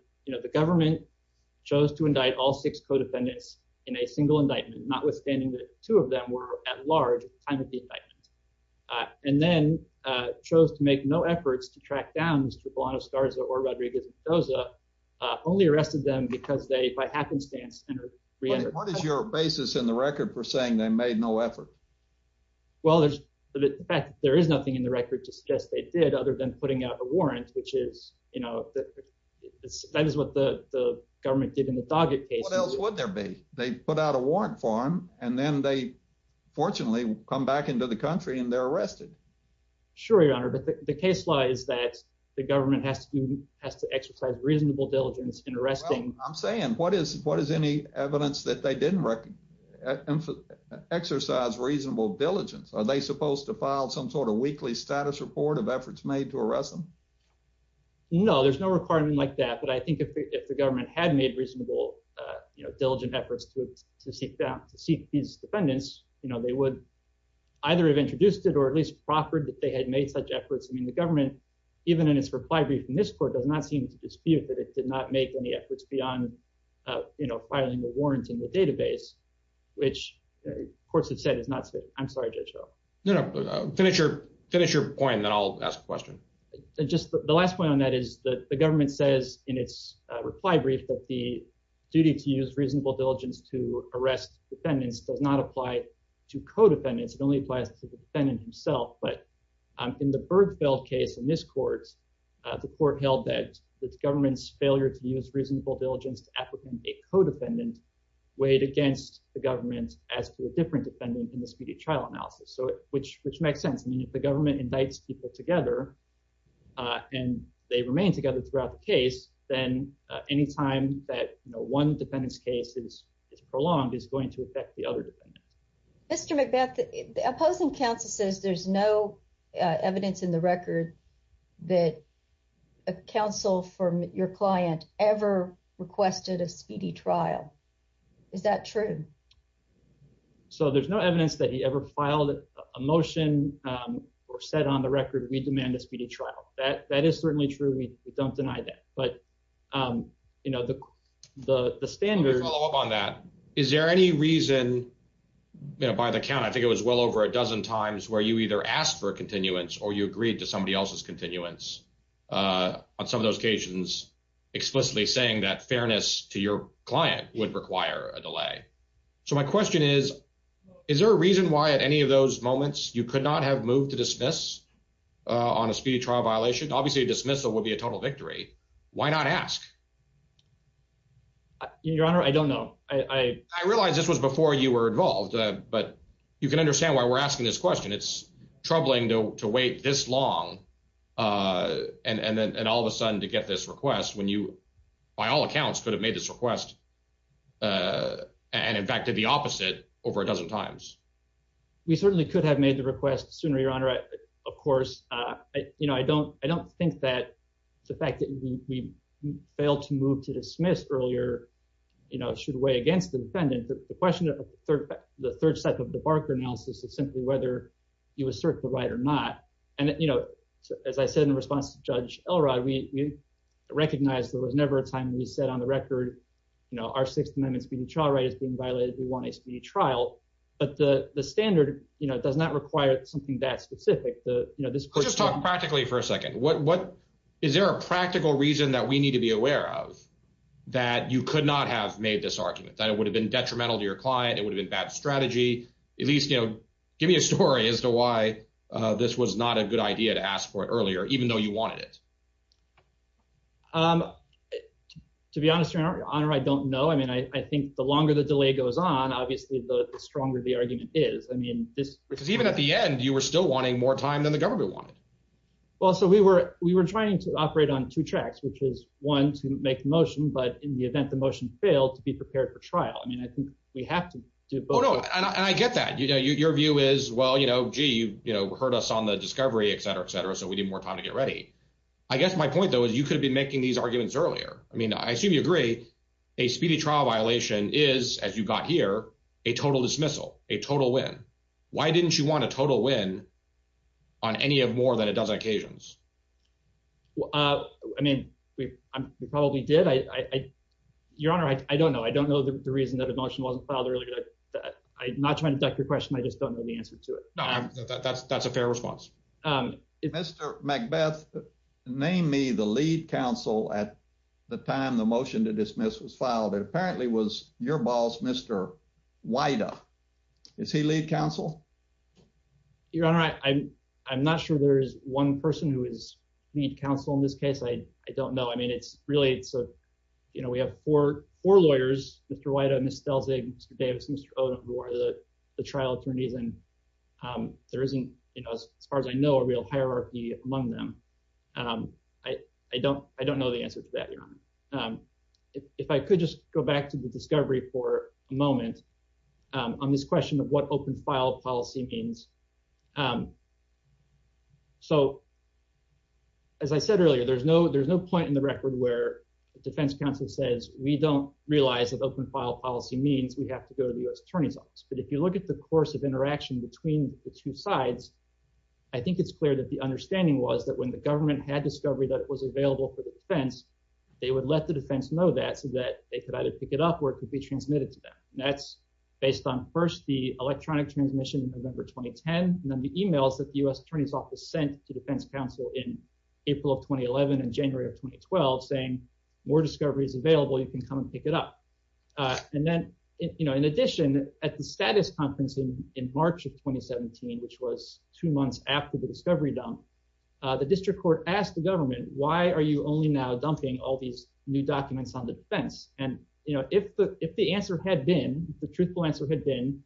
government chose to indict all six co-defendants in a single indictment, notwithstanding that two of them were at large. And then chose to make no efforts to track down Skarza or Rodriguez-Skarza, only arrested them because they, by happenstance… What is your basis in the record for saying they made no effort? Well, in fact, there is nothing in the record to suggest they did other than putting out a warrant, which is, you know, that is what the government did in this object case. What else would there be? They put out a warrant for them, and then they, fortunately, come back into the country and they're arrested. Sure, Your Honor, but the case law is that the government has to exercise reasonable diligence in arresting… I'm saying, what is any evidence that they didn't exercise reasonable diligence? Are they supposed to file some sort of weekly status report of efforts made to arrest them? No, there's no requirement like that, but I think if the government had made reasonable diligent efforts to seek these defendants, you know, they would either have introduced it or at least proffered that they had made such efforts. I mean, the government, even in its reply brief in this court, does not seem to dispute that it did not make any efforts beyond, you know, filing a warrant in the database, which courts have said is not safe. I'm sorry, Judge Ho. No, no, finish your point, and then I'll ask a question. Just the last point on that is that the government says in its reply brief that the duty to use reasonable diligence to arrest defendants does not apply to co-defendants. It only applies to the defendant himself, but in the Bergfeld case in this court, the court held that the government's failure to use reasonable diligence to apprehend a co-defendant weighed against the government as to a different defendant in the speedy trial analysis, which makes sense. I mean, if the government indicts people together and they remain together throughout the case, then any time that, you know, one defendant's case is prolonged, it's going to affect the other defendant. Mr. McBeth, the opposing counsel says there's no evidence in the record that a counsel from your client ever requested a speedy trial. Is that true? So there's no evidence that he ever filed a motion or said on the record that he demanded a speedy trial. That is certainly true. We don't deny that. But, you know, the standard. Is there any reason, by the count, I think it was well over a dozen times where you either asked for a continuance or you agreed to somebody else's continuance on some of those occasions explicitly saying that fairness to your client would require a delay? So my question is, is there a reason why at any of those moments you could not have moved to dismiss on a speedy trial violation? Obviously, dismissal will be a total victory. Why not ask? Your Honor, I don't know. I realize this was before you were involved, but you can understand why we're asking this question. It's troubling to wait this long. And then all of a sudden to get this request when you, by all accounts, could have made this request. And in fact, the opposite over a dozen times. We certainly could have made the request sooner, Your Honor. Of course, you know, I don't think that the fact that we failed to move to dismiss earlier, you know, should weigh against the defendant. But the question of the third cycle of the Barker analysis is simply whether you assert the right or not. And, you know, as I said in the response to Judge Elrod, we recognize there was never a time when we said on the record, you know, our Sixth Amendment speedy trial right is being violated if we want a speedy trial. But the standard, you know, does not require something that specific. Just talk practically for a second. Is there a practical reason that we need to be aware of that you could not have made this argument, that it would have been detrimental to your client, it would have been a bad strategy? At least, you know, give me a story as to why this was not a good idea to ask for it earlier, even though you wanted it. To be honest, Your Honor, I don't know. I mean, I think the longer the delay goes on, obviously, the stronger the argument is. I mean, because even at the end, you were still wanting more time than the government wanted. Well, so we were we were trying to operate on two tracks, which is one to make a motion. But in the event the motion fails, be prepared for trial. I mean, I think we have to do both. And I get that. You know, your view is, well, you know, you heard us on the discovery, et cetera, et cetera. I guess my point, though, is you could be making these arguments earlier. I mean, I assume you agree a speedy trial violation is, as you got here, a total dismissal, a total win. Why didn't you want a total win on any of more than a dozen occasions? I mean, we probably did. Your Honor, I don't know. I don't know the reason that the motion wasn't filed earlier. I'm not trying to duck the question. I just don't know the answer to it. That's a fair response. Mr. Macbeth, name me the lead counsel at the time the motion to dismiss was filed. It apparently was your boss, Mr. Wida. Is he lead counsel? Your Honor, I'm not sure there's one person who is lead counsel in this case. I don't know. I mean, it's really, you know, we have four lawyers, Mr. Wida, Ms. Belzig, Mr. Davis, Mr. Odom, who are the trial attorneys. And there isn't, you know, as far as I know, a real hierarchy among them. I don't know the answer to that, Your Honor. If I could just go back to the discovery for a moment on this question of what open file policy means. So, as I said earlier, there's no point in the record where the defense counsel says we don't realize what open file policy means. We have to go to the U.S. attorney's office. But if you look at the course of interaction between the two sides, I think it's clear that the understanding was that when the government had discovery that it was available for the defense, they would let the defense know that so that they could either pick it up or it could be transmitted to them. And that's based on first the electronic transmission in November 2010, and then the e-mails that the U.S. attorney's office sent to defense counsel in April of 2011 and January of 2012 saying more discovery is available, you can come and pick it up. And then, you know, in addition, at the status conference in March of 2017, which was two months after the discovery dump, the district court asked the government, why are you only now dumping all these new documents on the defense? And, you know, if the answer had been, if the truthful answer had been,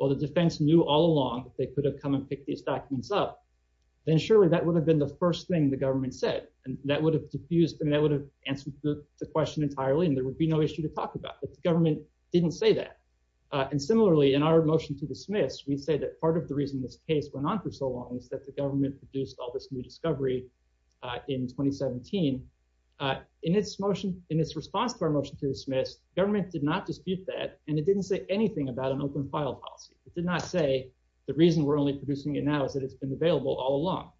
well, the defense knew all along that they could have come and picked these documents up, then surely that would have been the first thing the government said. And that would have diffused, and that would have answered the question entirely, and there would be no issue to talk about. But the government didn't say that. And similarly, in our motion to dismiss, we say that part of the reason this case went on for so long is that the government produced all this new discovery in 2017. In its motion, in its response to our motion to dismiss, government did not dispute that, and it didn't say anything about an open file policy. It did not say the reason we're only producing it now is that it's been available all along,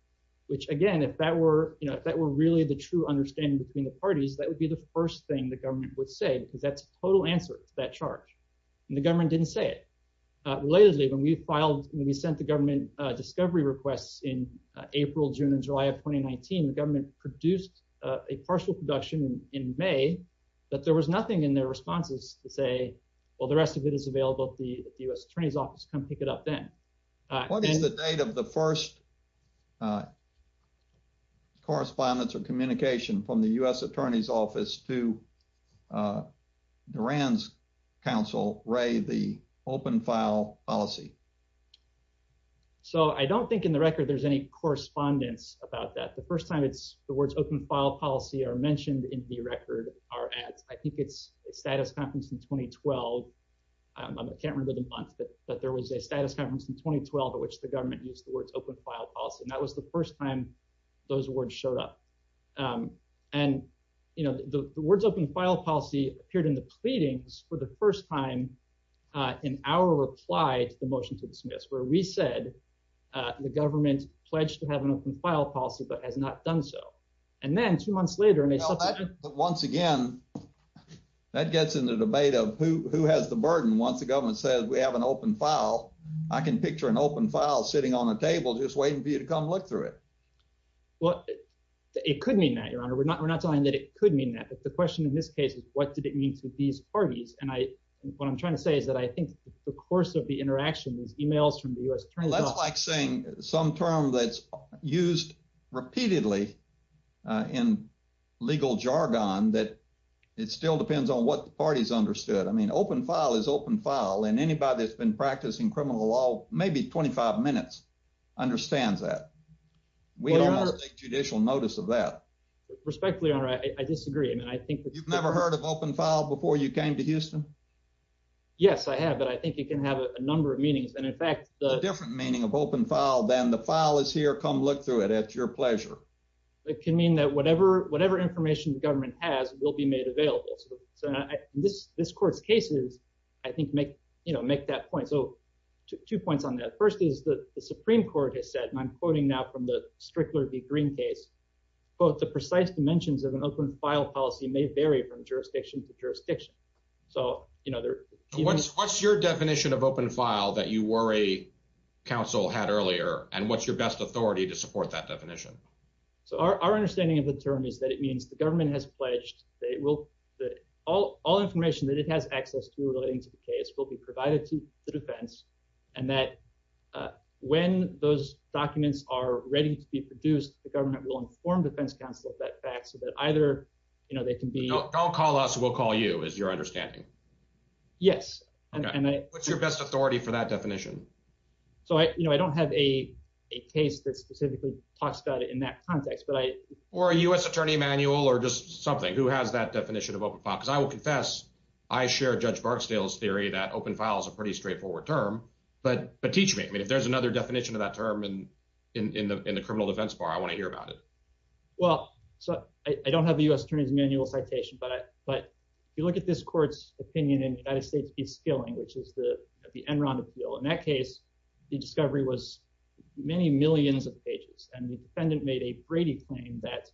which, again, if that were, you know, if that were really the true understanding between the parties, that would be the first thing the government would say, because that's the total answer to that charge. And the government didn't say it. Relatedly, when we filed, when we sent the government discovery requests in April, June, and July of 2019, the government produced a partial production in May that there was nothing in their responses to say, well, the rest of it is available at the U.S. Attorney's Office, come pick it up then. What is the date of the first correspondence or communication from the U.S. Attorney's Office to Duran's counsel, Ray, the open file policy? So I don't think in the record there's any correspondence about that. The first time it's, the words open file policy are mentioned in the record are at, I think it's the status conference in 2012. I can't remember the month, but there was a status conference in 2012 at which the government used the words open file policy, and that was the first time those words showed up. And, you know, the words open file policy appeared in the pleadings for the first time in our reply to the motion to dismiss, where we said the government pledged to have an open file policy, but has not done so. And then two months later, and they- But once again, that gets into the debate of who has the burden once the government says we have an open file. I can picture an open file sitting on a table just waiting for you to come look through it. Well, it could mean that, Your Honor. We're not saying that it could mean that, but the question in this case is what did it mean to these parties? And I, what I'm trying to say is that I think the course of the interaction with emails from the U.S. Attorney's Office- I mean, open file is open file, and anybody that's been practicing criminal law maybe 25 minutes understands that. We don't take judicial notice of that. Respectfully, Your Honor, I disagree. I mean, I think- You've never heard of open file before you came to Houston? Yes, I have, but I think it can have a number of meanings, and in fact- A different meaning of open file than the file is here, come look through it. It's your pleasure. It can mean that whatever information the government has will be made available. This court's cases, I think, make that point. So, two points on that. The first is that the Supreme Court has said, and I'm quoting now from the Strickler v. Green case, quote, the precise dimensions of an open file policy may vary from jurisdiction to jurisdiction. What's your definition of open file that you worry counsel had earlier, and what's your best authority to support that definition? Our understanding of the term is that it means the government has pledged that all information that it has access to relating to the case will be provided to the defense, and that when those documents are ready to be produced, the government will inform defense counsel of that fact so that either they can be- So, don't call us, we'll call you, is your understanding? Yes. Okay. What's your best authority for that definition? So, I don't have a case that specifically talks about it in that context, but I- Or a U.S. attorney manual or just something. Who has that definition of open file? Because I will confess, I share Judge Barksdale's theory that open file is a pretty straightforward term, but teach me. If there's another definition of that term in the criminal defense bar, I want to hear about it. Well, I don't have a U.S. attorney's manual citation, but if you look at this court's opinion in the United States case of Skilling, which is the Enron appeal, in that case, the discovery was many millions of pages, and the defendant made a Brady claim that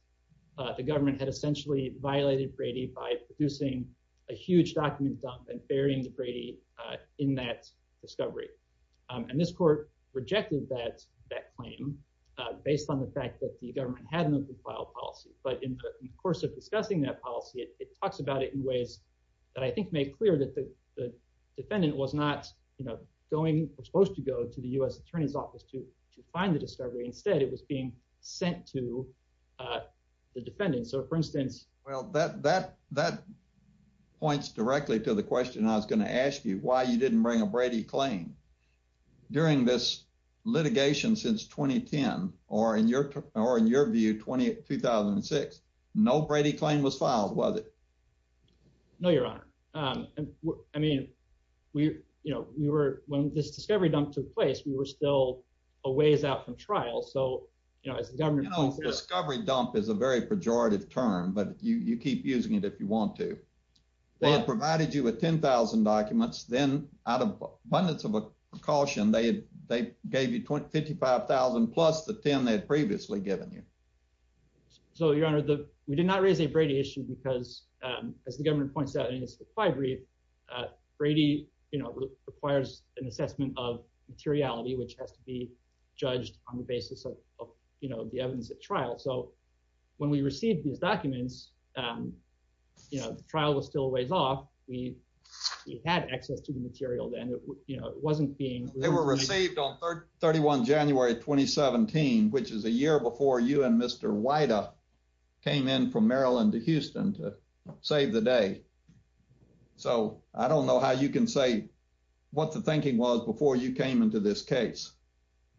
the government had essentially violated Brady by producing a huge document dump and burying Brady in that discovery. And this court rejected that claim based on the fact that the government had an open file policy. But in the course of discussing that policy, it talks about it in ways that I think made clear that the defendant was not supposed to go to the U.S. attorney's office to find the discovery. Instead, it was being sent to the defendant. So, for instance- Well, that points directly to the question I was going to ask you, why you didn't bring a Brady claim. During this litigation since 2010, or in your view, 2006, no Brady claim was filed, was it? No, Your Honor. I mean, when this discovery dump took place, we were still a ways out from trial. You know, discovery dump is a very pejorative term, but you keep using it if you want to. They had provided you with 10,000 documents. Then, out of abundance of caution, they gave you 55,000 plus the 10 they had previously given you. So, Your Honor, we did not raise a Brady issue because, as the government points out in its discovery, Brady requires an assessment of materiality, which has to be judged on the basis of the evidence at trial. So, when we received these documents, the trial was still a ways off. We had access to the material then. They were received on 31 January 2017, which is a year before you and Mr. Wyda came in from Maryland to Houston to save the day. So, I don't know how you can say what the thinking was before you came into this case.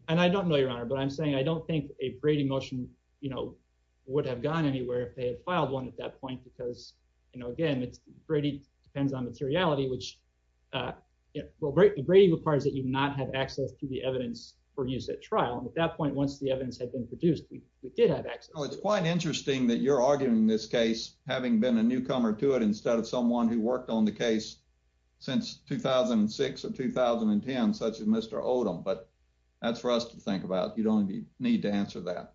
I don't know, Your Honor, but I'm saying I don't think a Brady motion would have gone anywhere if they had filed one at that point because, again, Brady depends on materiality. Brady requires that you not have access to the evidence produced at trial. At that point, once the evidence had been produced, you did have access. It's quite interesting that you're arguing this case having been a newcomer to it instead of someone who worked on the case since 2006 or 2010, such as Mr. Odom. But that's for us to think about. You don't need to answer that.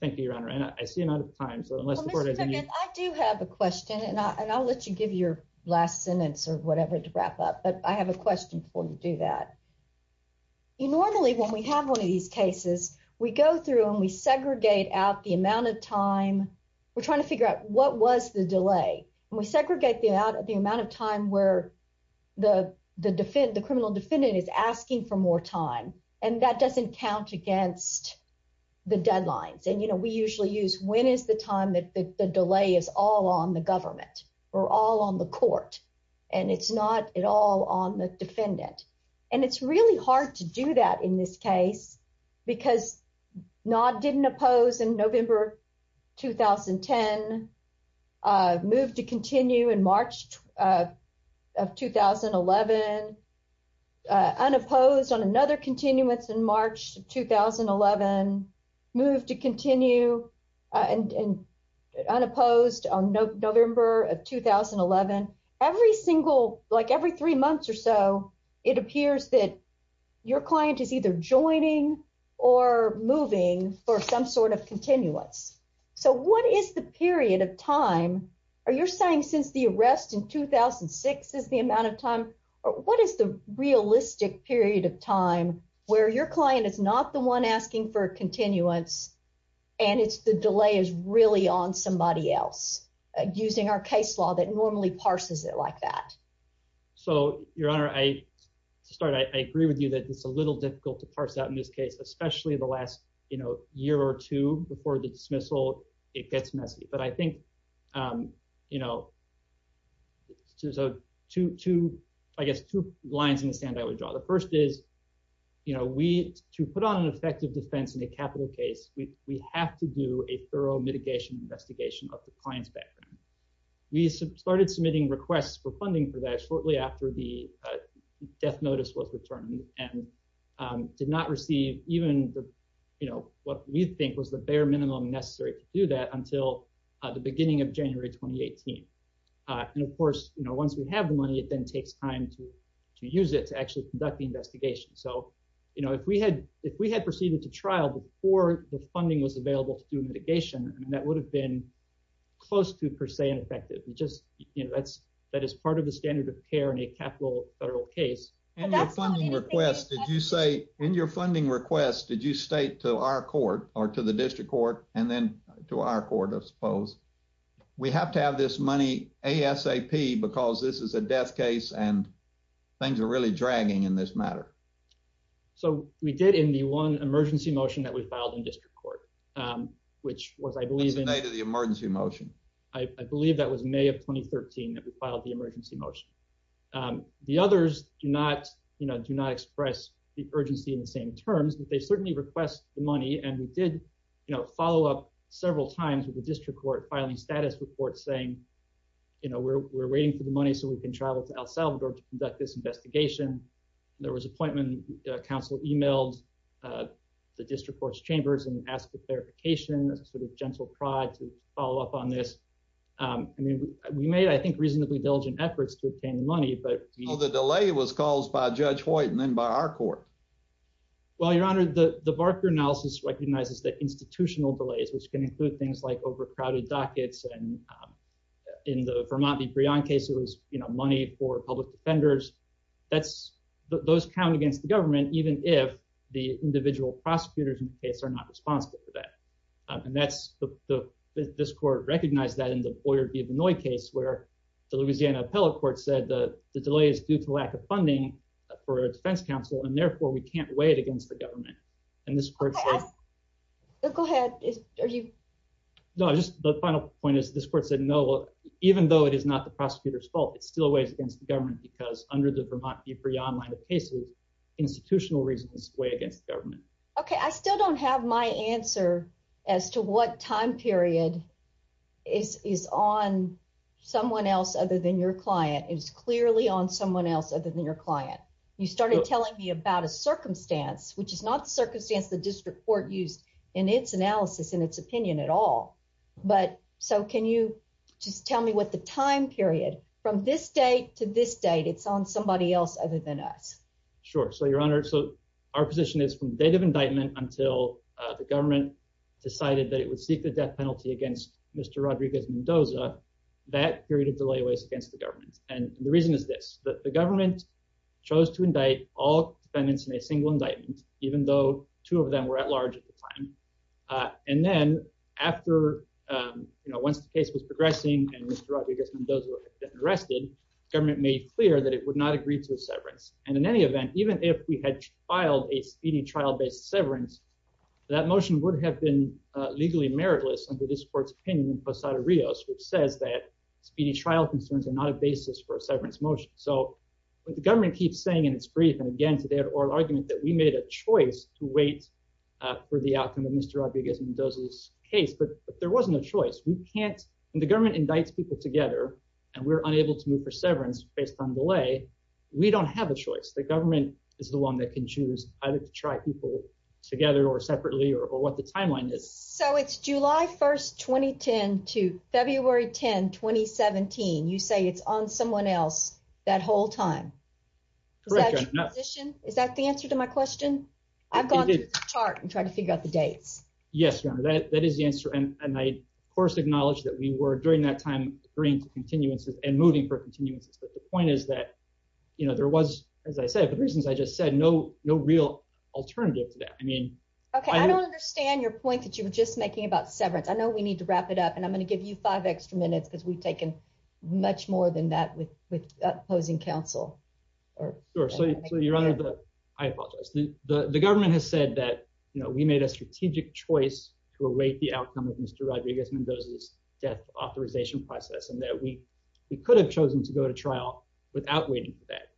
Thank you, Your Honor, and I see none of the time. I do have a question, and I'll let you give your last sentence or whatever to wrap up, but I have a question before we do that. Normally, when we have one of these cases, we go through and we segregate out the amount of time. We're trying to figure out what was the delay. We segregate the amount of time where the criminal defendant is asking for more time, and that doesn't count against the deadlines. We usually use when is the time that the delay is all on the government or all on the court, and it's not at all on the defendant. It's really hard to do that in this case because Nod didn't oppose in November 2010, moved to continue in March of 2011, unopposed on another continuance in March of 2011, moved to continue, and unopposed on November of 2011. Every single, like every three months or so, it appears that your client is either joining or moving for some sort of continuance. So what is the period of time? Are you saying since the arrest in 2006 is the amount of time? What is the realistic period of time where your client is not the one asking for a continuance, and the delay is really on somebody else using our case law that normally parses it like that? So, Your Honor, to start, I agree with you that it's a little difficult to parse out in this case, especially the last year or two before the dismissal, it gets messy. But I think there's two lines in the sand I would draw. The first is to put on an effective defense in a capital case, we have to do a thorough mitigation investigation of the client's background. We started submitting requests for funding for that shortly after the death notice was determined, and did not receive even what we think was the bare minimum necessary to do that until the beginning of January 2018. And of course, once we have the money, it then takes time to use it to actually conduct the investigation. So if we had proceeded to trial before the funding was available for mitigation, that would have been close to per se ineffective. That is part of the standard of care in a capital federal case. In your funding request, did you state to our court, or to the district court, and then to our court, I suppose, we have to have this money ASAP because this is a death case and things are really dragging in this matter? So, we did in the one emergency motion that was filed in district court. Which was, I believe, in the date of the emergency motion. I believe that was May of 2013 that we filed the emergency motion. The others do not express the urgency in the same terms. They certainly request the money, and we did follow up several times with the district court filing status reports saying, you know, we're waiting for the money so we can travel to El Salvador to conduct this investigation. There was an appointment, the council emailed the district court's chambers and asked for clarification, a sort of gentle prod to follow up on this. We made, I think, reasonably diligent efforts to obtain the money. So, the delay was caused by Judge Hoyt and then by our court? Well, Your Honor, the Barker analysis recognizes that institutional delays, which can include things like overcrowded dockets, and in the Vermont v. Breon case, it was money for public defenders. Those count against the government, even if the individual prosecutors in the case are not responsible for that. This court recognized that in the Boyer v. Benoit case where the Louisiana appellate court said the delay is due to lack of funding for a defense counsel, and therefore we can't weigh it against the government. Go ahead. No, just the final point is this court said no, even though it is not the prosecutor's fault, it still weighs against the government because under the Vermont v. Breon line of cases, institutional reasons weigh against government. Okay, I still don't have my answer as to what time period is on someone else other than your client. It's clearly on someone else other than your client. You started telling me about a circumstance, which is not the circumstance the district court used in its analysis, in its opinion at all. So, can you tell me what the time period, from this date to this date, it's on somebody else other than us? Sure. So, Your Honor, so our position is from the date of indictment until the government decided that it would seek the death penalty against Mr. Rodriguez Mendoza, that period of delay weighs against the government. And the reason is this, that the government chose to indict all defendants in a single indictment, even though two of them were at large at the time. And then after, you know, once the case was progressing and Mr. Rodriguez Mendoza had been arrested, government made clear that it would not agree to a severance. And in any event, even if we had filed a speeding trial-based severance, that motion would have been legally meritless under this court's opinion in Posada-Rios, which says that speeding trial concerns are not a basis for a severance motion. So, the government keeps saying in its brief, and again, to their oral argument, that we made a choice to wait for the outcome of Mr. Rodriguez Mendoza's case, but there wasn't a choice. We can't, when the government indicts people together, and we're unable to move for severance based on delay, we don't have a choice. The government is the one that can choose either to try people together or separately or what the timeline is. So, it's July 1st, 2010 to February 10th, 2017. You say it's on someone else that whole time. Correct. Is that the answer to my question? I've gone through the chart and tried to figure out the date. Yes, Your Honor, that is the answer, and I of course acknowledge that we were during that time bringing continuances and moving for continuances. But the point is that, you know, there was, as I said, for reasons I just said, no real alternative to that. Okay, I don't understand your point that you were just making about severance. I know we need to wrap it up, and I'm going to give you five extra minutes because we've taken much more than that with opposing counsel. Sure. So, Your Honor, I apologize. The government has said that we made a strategic choice to await the outcome of Mr. Rodriguez Mendoza's death authorization process, and that we could have chosen to go to trial without waiting for that.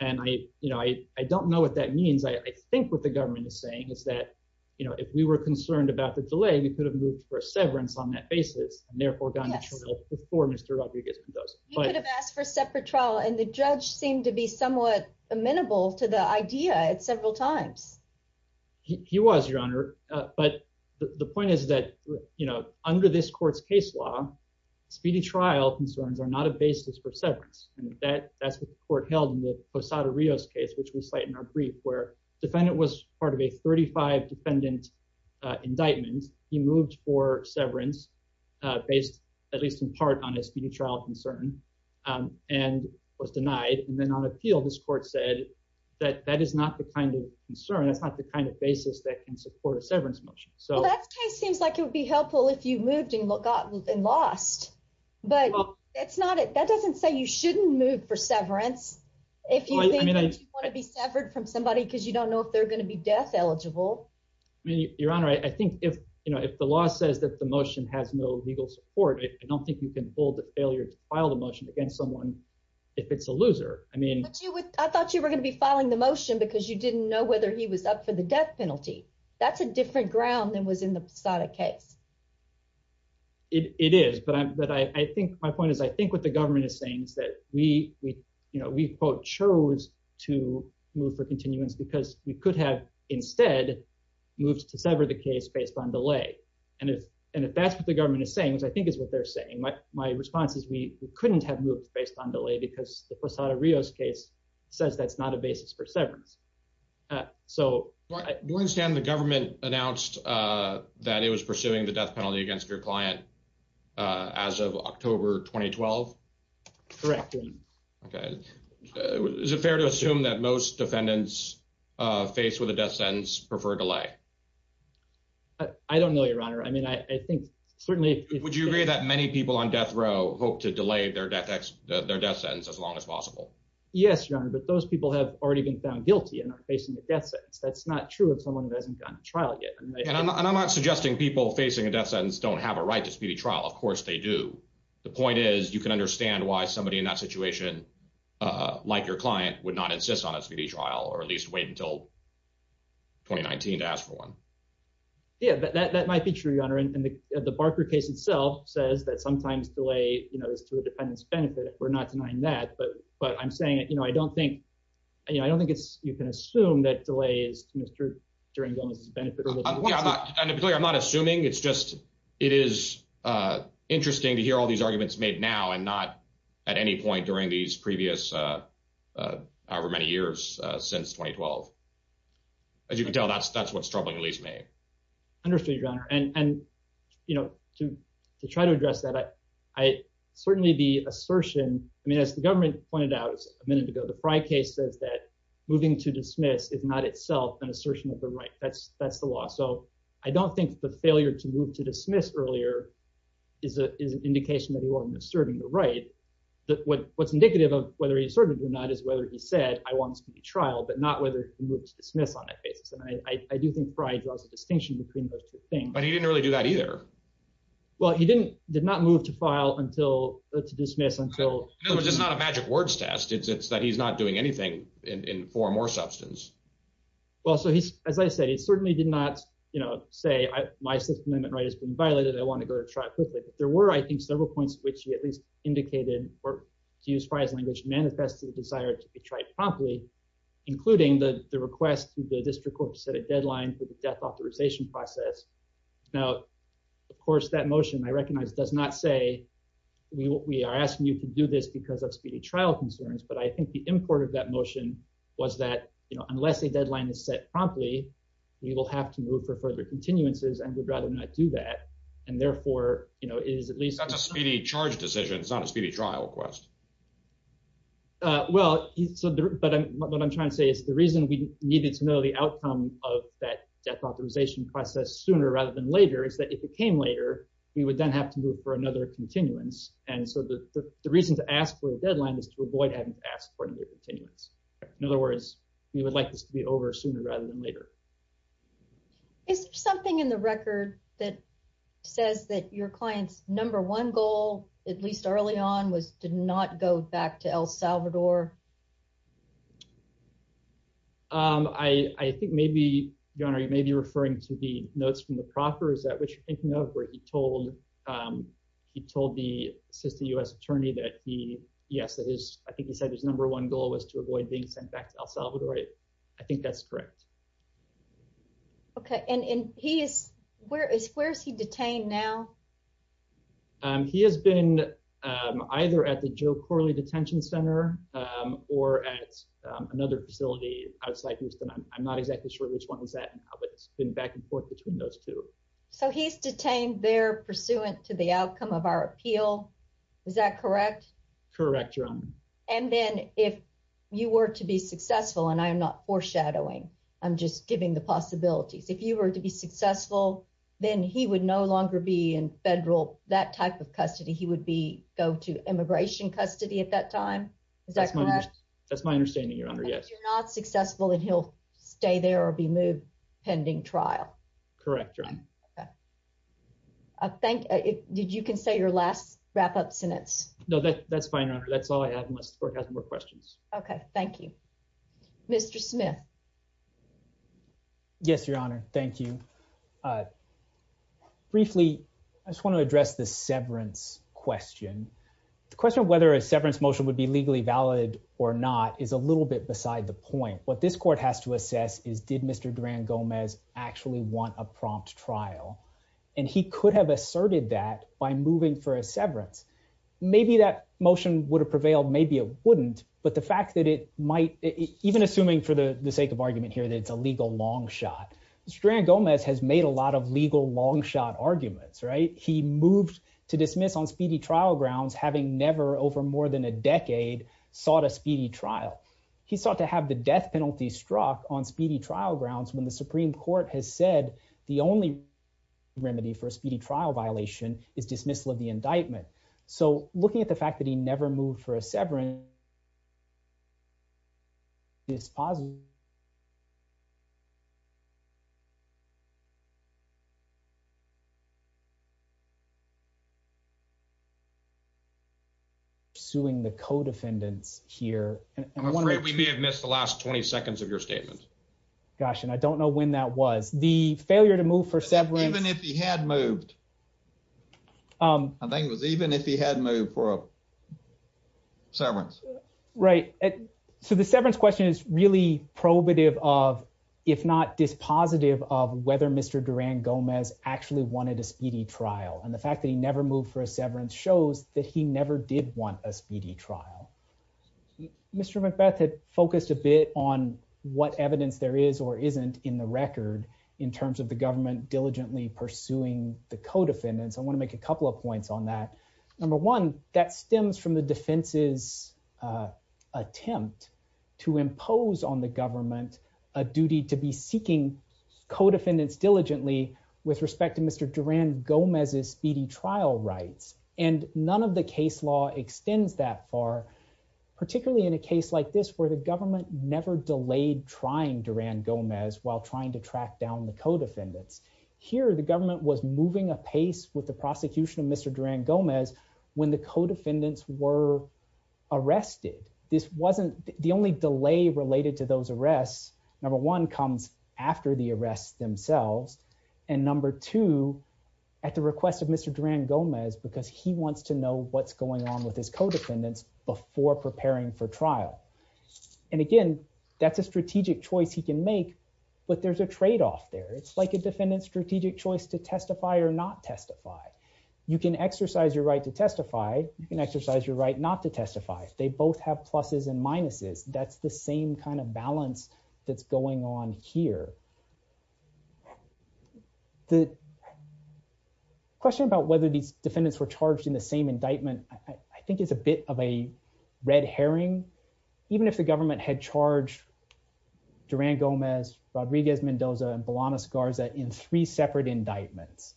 And, you know, I don't know what that means, but I think what the government is saying is that, you know, if we were concerned about the delay, we could have moved for severance on that basis and therefore gone to trial before Mr. Rodriguez Mendoza. You could have asked for a separate trial, and the judge seemed to be somewhat amenable to the idea several times. He was, Your Honor. But the point is that, you know, under this court's case law, speedy trial concerns are not a basis for severance. And that's what the court held in the Posada-Rios case, which we cite in our brief, where the defendant was part of a 35-defendant indictment. And he moved for severance based, at least in part, on his speedy trial concern and was denied. And then on appeal, this court said that that is not the kind of concern, that's not the kind of basis that can support a severance motion. That kind of seems like it would be helpful if you moved and lost. But that doesn't say you shouldn't move for severance. If you want to be severed from somebody because you don't know if they're going to be death eligible. Your Honor, I think if the law says that the motion has no legal support, I don't think you can hold the failure to file the motion against someone if it's a loser. I thought you were going to be filing the motion because you didn't know whether he was up for the death penalty. That's a different ground than was in the Posada case. It is, but I think my point is, I think what the government is saying is that we chose to move for continuance because we could have instead moved to sever the case based on delay. And if that's what the government is saying, which I think is what they're saying, my response is we couldn't have moved based on delay because the Posada-Rios case says that's not a basis for severance. Do you understand the government announced that it was pursuing the death penalty against your client as of October 2012? Correct. Okay. Is it fair to assume that most defendants faced with a death sentence prefer delay? I don't know, Your Honor. I mean, I think certainly... Would you agree that many people on death row hope to delay their death sentence as long as possible? Yes, Your Honor, but those people have already been found guilty and are facing a death sentence. That's not true of someone who hasn't gone to trial yet. And I'm not suggesting people facing a death sentence don't have a right to speedy trial. Of course they do. The point is you can understand why somebody in that situation, like your client, would not insist on a speedy trial or at least wait until 2019 to ask for one. Yeah, that might be true, Your Honor. And the Barker case itself says that sometimes delay is to the defendant's benefit. We're not denying that. But I'm saying I don't think you can assume that delay is to the defendant's benefit. I'm not assuming. It's just it is interesting to hear all these arguments made now and not at any point during these previous however many years since 2012. As you can tell, that's what's troubling me. Understood, Your Honor. And, you know, to try to address that, certainly the assertion... I mean, as the government pointed out a minute ago, the Frye case says that moving to dismiss is not itself an assertion of the right. That's the law. So I don't think the failure to move to dismiss earlier is an indication that you are misserving the right. What's indicative of whether he asserted or not is whether he said, I want speedy trial, but not whether he moved to dismiss on that case. And I do think Frye draws a distinction between those two things. But he didn't really do that either. Well, he did not move to dismiss until... It's not a magic words test. It's that he's not doing anything in form or substance. Well, so as I said, he certainly did not say, my Fifth Amendment right has been violated. I want to go to trial quickly. There were, I think, several points which he at least indicated, or to use Frye's language, manifested a desire to be tried promptly, including the request to the district court to set a deadline for the death authorization process. Now, of course, that motion, I recognize, does not say we are asking you to do this because of speedy trial concerns. But I think the import of that motion was that unless the deadline is set promptly, we will have to move for further continuances, and we'd rather not do that. And therefore, it is at least... It's not a speedy charge decision. It's not a speedy trial request. Well, but what I'm trying to say is the reason we needed to know the outcome of that death authorization process sooner rather than later is that if it came later, we would then have to move for another continuance. And so the reason to ask for a deadline is to avoid having to ask for a new continuance. In other words, we would like this to be over sooner rather than later. Is there something in the record that says that your client's number one goal, at least early on, was to not go back to El Salvador? I think maybe, Your Honor, you may be referring to the notes from the proffer, is that what you're thinking of, where he told the U.S. attorney that he... Yes, I think he said his number one goal was to avoid being sent back to El Salvador. I think that's correct. Okay, and where is he detained now? He has been either at the Joe Corley Detention Center or at another facility outside Houston. I'm not exactly sure which one was that, but it's been back and forth between those two. So he's detained there pursuant to the outcome of our appeal. Is that correct? Correct, Your Honor. And then if you were to be successful, and I'm not foreshadowing, I'm just giving the possibility, if you were to be successful, then he would no longer be in federal, that type of custody. He would be, go to immigration custody at that time. Is that correct? That's my understanding, Your Honor, yes. If you're not successful, then he'll stay there or be moved pending trial. Correct, Your Honor. Okay. Did you say your last wrap-up sentence? No, that's fine, Your Honor. That's all I have unless the court has more questions. Okay, thank you. Mr. Smith. Yes, Your Honor. Thank you. Briefly, I just want to address the severance question. The question of whether a severance motion would be legally valid or not is a little bit beside the point. What this court has to assess is, did Mr. Durand-Gomez actually want a prompt trial? And he could have asserted that by moving for a severance. Maybe that motion would have prevailed, maybe it wouldn't. But the fact that it might, even assuming for the sake of argument here that it's a legal long shot, Mr. Durand-Gomez has made a lot of legal long shot arguments, right? He moved to dismiss on speedy trial grounds, having never over more than a decade sought a speedy trial. He sought to have the death penalty struck on speedy trial grounds when the Supreme Court has said the only remedy for a speedy trial violation is dismissal of the indictment. So looking at the fact that he never moved for a severance is positive. Suing the co-defendant here. I'm afraid we may have missed the last 20 seconds of your statement. Gosh, and I don't know when that was. The failure to move for severance. Even if he had moved. I think it was even if he had moved for a severance. Right. So the severance question is really probative of, if not dispositive of whether Mr. Durand-Gomez actually wanted a speedy trial. And the fact that he never moved for a severance shows that he never did want a speedy trial. Mr. McBeth had focused a bit on what evidence there is or isn't in the record in terms of the government diligently pursuing the co-defendants. I want to make a couple of points on that. Number one, that stems from the defense's attempt to impose on the government a duty to be seeking co-defendants diligently with respect to Mr. Durand-Gomez's speedy trial rights. And none of the case law extends that far, particularly in a case like this where the government never delayed trying Durand-Gomez while trying to track down the co-defendants. Here, the government was moving apace with the prosecution of Mr. Durand-Gomez when the co-defendants were arrested. This wasn't the only delay related to those arrests. Number one comes after the arrests themselves. And number two, at the request of Mr. Durand-Gomez, because he wants to know what's going on with his co-defendants before preparing for trial. And again, that's a strategic choice he can make, but there's a tradeoff there. It's like a defendant's strategic choice to testify or not testify. You can exercise your right to testify. You can exercise your right not to testify. They both have pluses and minuses. That's the same kind of balance that's going on here. The question about whether the defendants were charged in the same indictment, I think it's a bit of a red herring. Even if the government had charged Durand-Gomez, Rodriguez-Mendoza, and Bolanos-Garza in three separate indictments,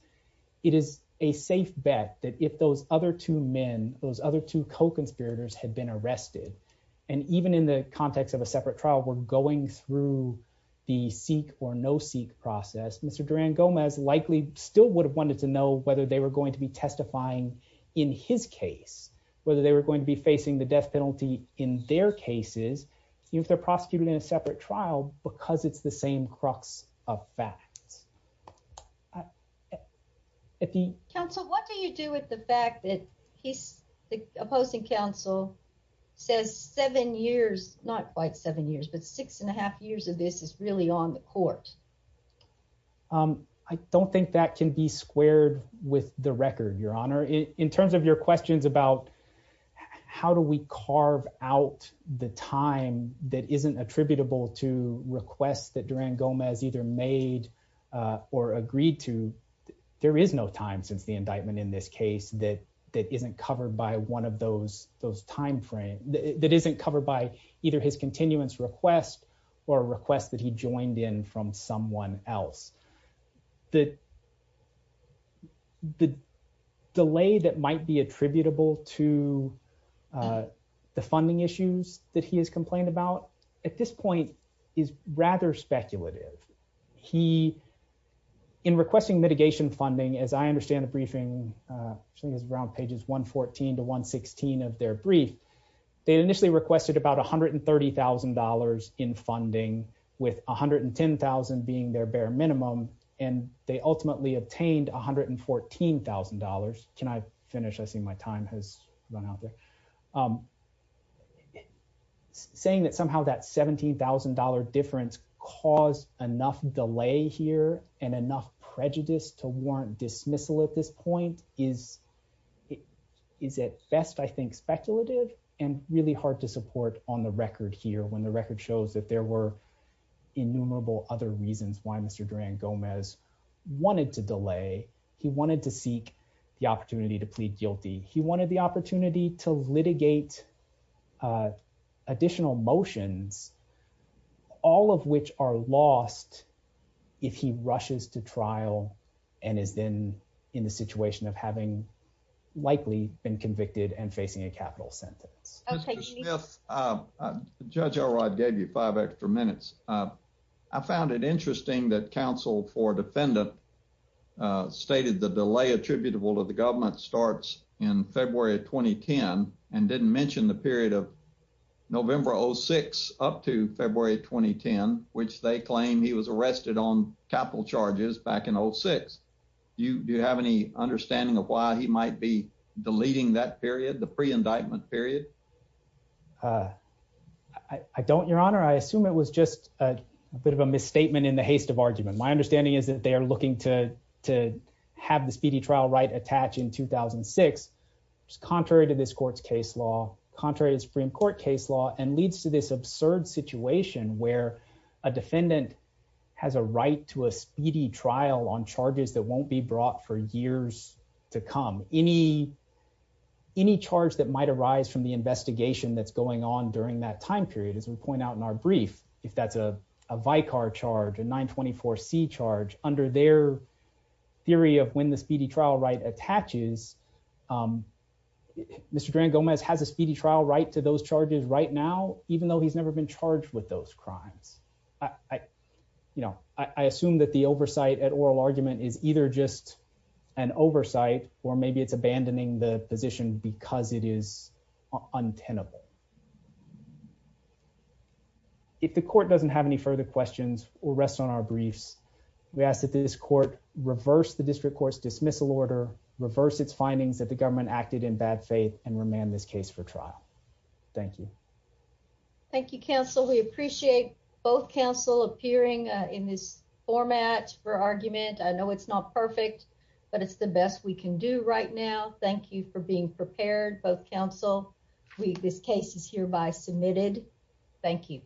it is a safe bet that if those other two men, those other two co-conspirators had been arrested, and even in the context of a separate trial were going through the seek or no-seek process, Mr. Durand-Gomez likely still would have wanted to know whether they were going to be testifying in his case, whether they were going to be facing the death penalty in their cases if they're prosecuting in a separate trial because it's the same crux of fact. Counsel, what do you do with the fact that the opposing counsel says seven years, not quite seven years, but six and a half years of this is really on the court? I don't think that can be squared with the record, Your Honor. In terms of your questions about how do we carve out the time that isn't attributable to requests that Durand-Gomez either made or agreed to, there is no time since the indictment in this case that isn't covered by either his continuance request or a request that he joined in from someone else. The delay that might be attributable to the funding issues that he has complained about at this point is rather speculative. He, in requesting mitigation funding, as I understand the briefing, I think it was around pages 114 to 116 of their brief, they initially requested about $130,000 in funding with $110,000 being their bare minimum, and they ultimately obtained $114,000. Can I finish? I see my time has run out there. Saying that somehow that $17,000 difference caused enough delay here and enough prejudice to warrant dismissal at this point is at best, I think, speculative and really hard to support on the record here when the record shows that there were innumerable other reasons why Mr. Durand-Gomez wanted to delay. He wanted to seek the opportunity to plead guilty. He wanted the opportunity to litigate additional motions, all of which are lost if he rushes to trial and is in a situation of having likely been convicted and facing a capital sentence. Mr. Smith, Judge Elrod gave you five extra minutes. I found it interesting that counsel for defendant stated the delay attributable to the government starts in February 2010 and didn't mention the period of November 06 up to February 2010, which they claim he was arrested on capital charges back in 06. Do you have any understanding of why he might be deleting that period, the pre-indictment period? I don't, Your Honor. I assume it was just a bit of a misstatement in the haste of argument. My understanding is that they are looking to have the speedy trial right attach in 2006 contrary to this court's case law, contrary to Supreme Court case law, and leads to this absurd situation where a defendant has a right to a speedy trial on charges that won't be brought for years to come. Any charge that might arise from the investigation that's going on during that time period, as we point out in our brief, if that's a Vicar charge, a 924C charge, under their theory of when the speedy trial right attaches, Mr. Grand Gomez has a speedy trial right to those charges right now, even though he's never been charged with those crimes. I assume that the oversight at oral argument is either just an oversight or maybe it's abandoning the position because it is untenable. If the court doesn't have any further questions or rests on our briefs, we ask that this court reverse the district court's dismissal order, reverse its findings that the government acted in bad faith, and remand this case for trial. Thank you. Thank you, counsel. We appreciate both counsel appearing in this format for argument. I know it's not perfect, but it's the best we can do right now. Thank you for being prepared, both counsel. This case is hereby submitted. Thank you.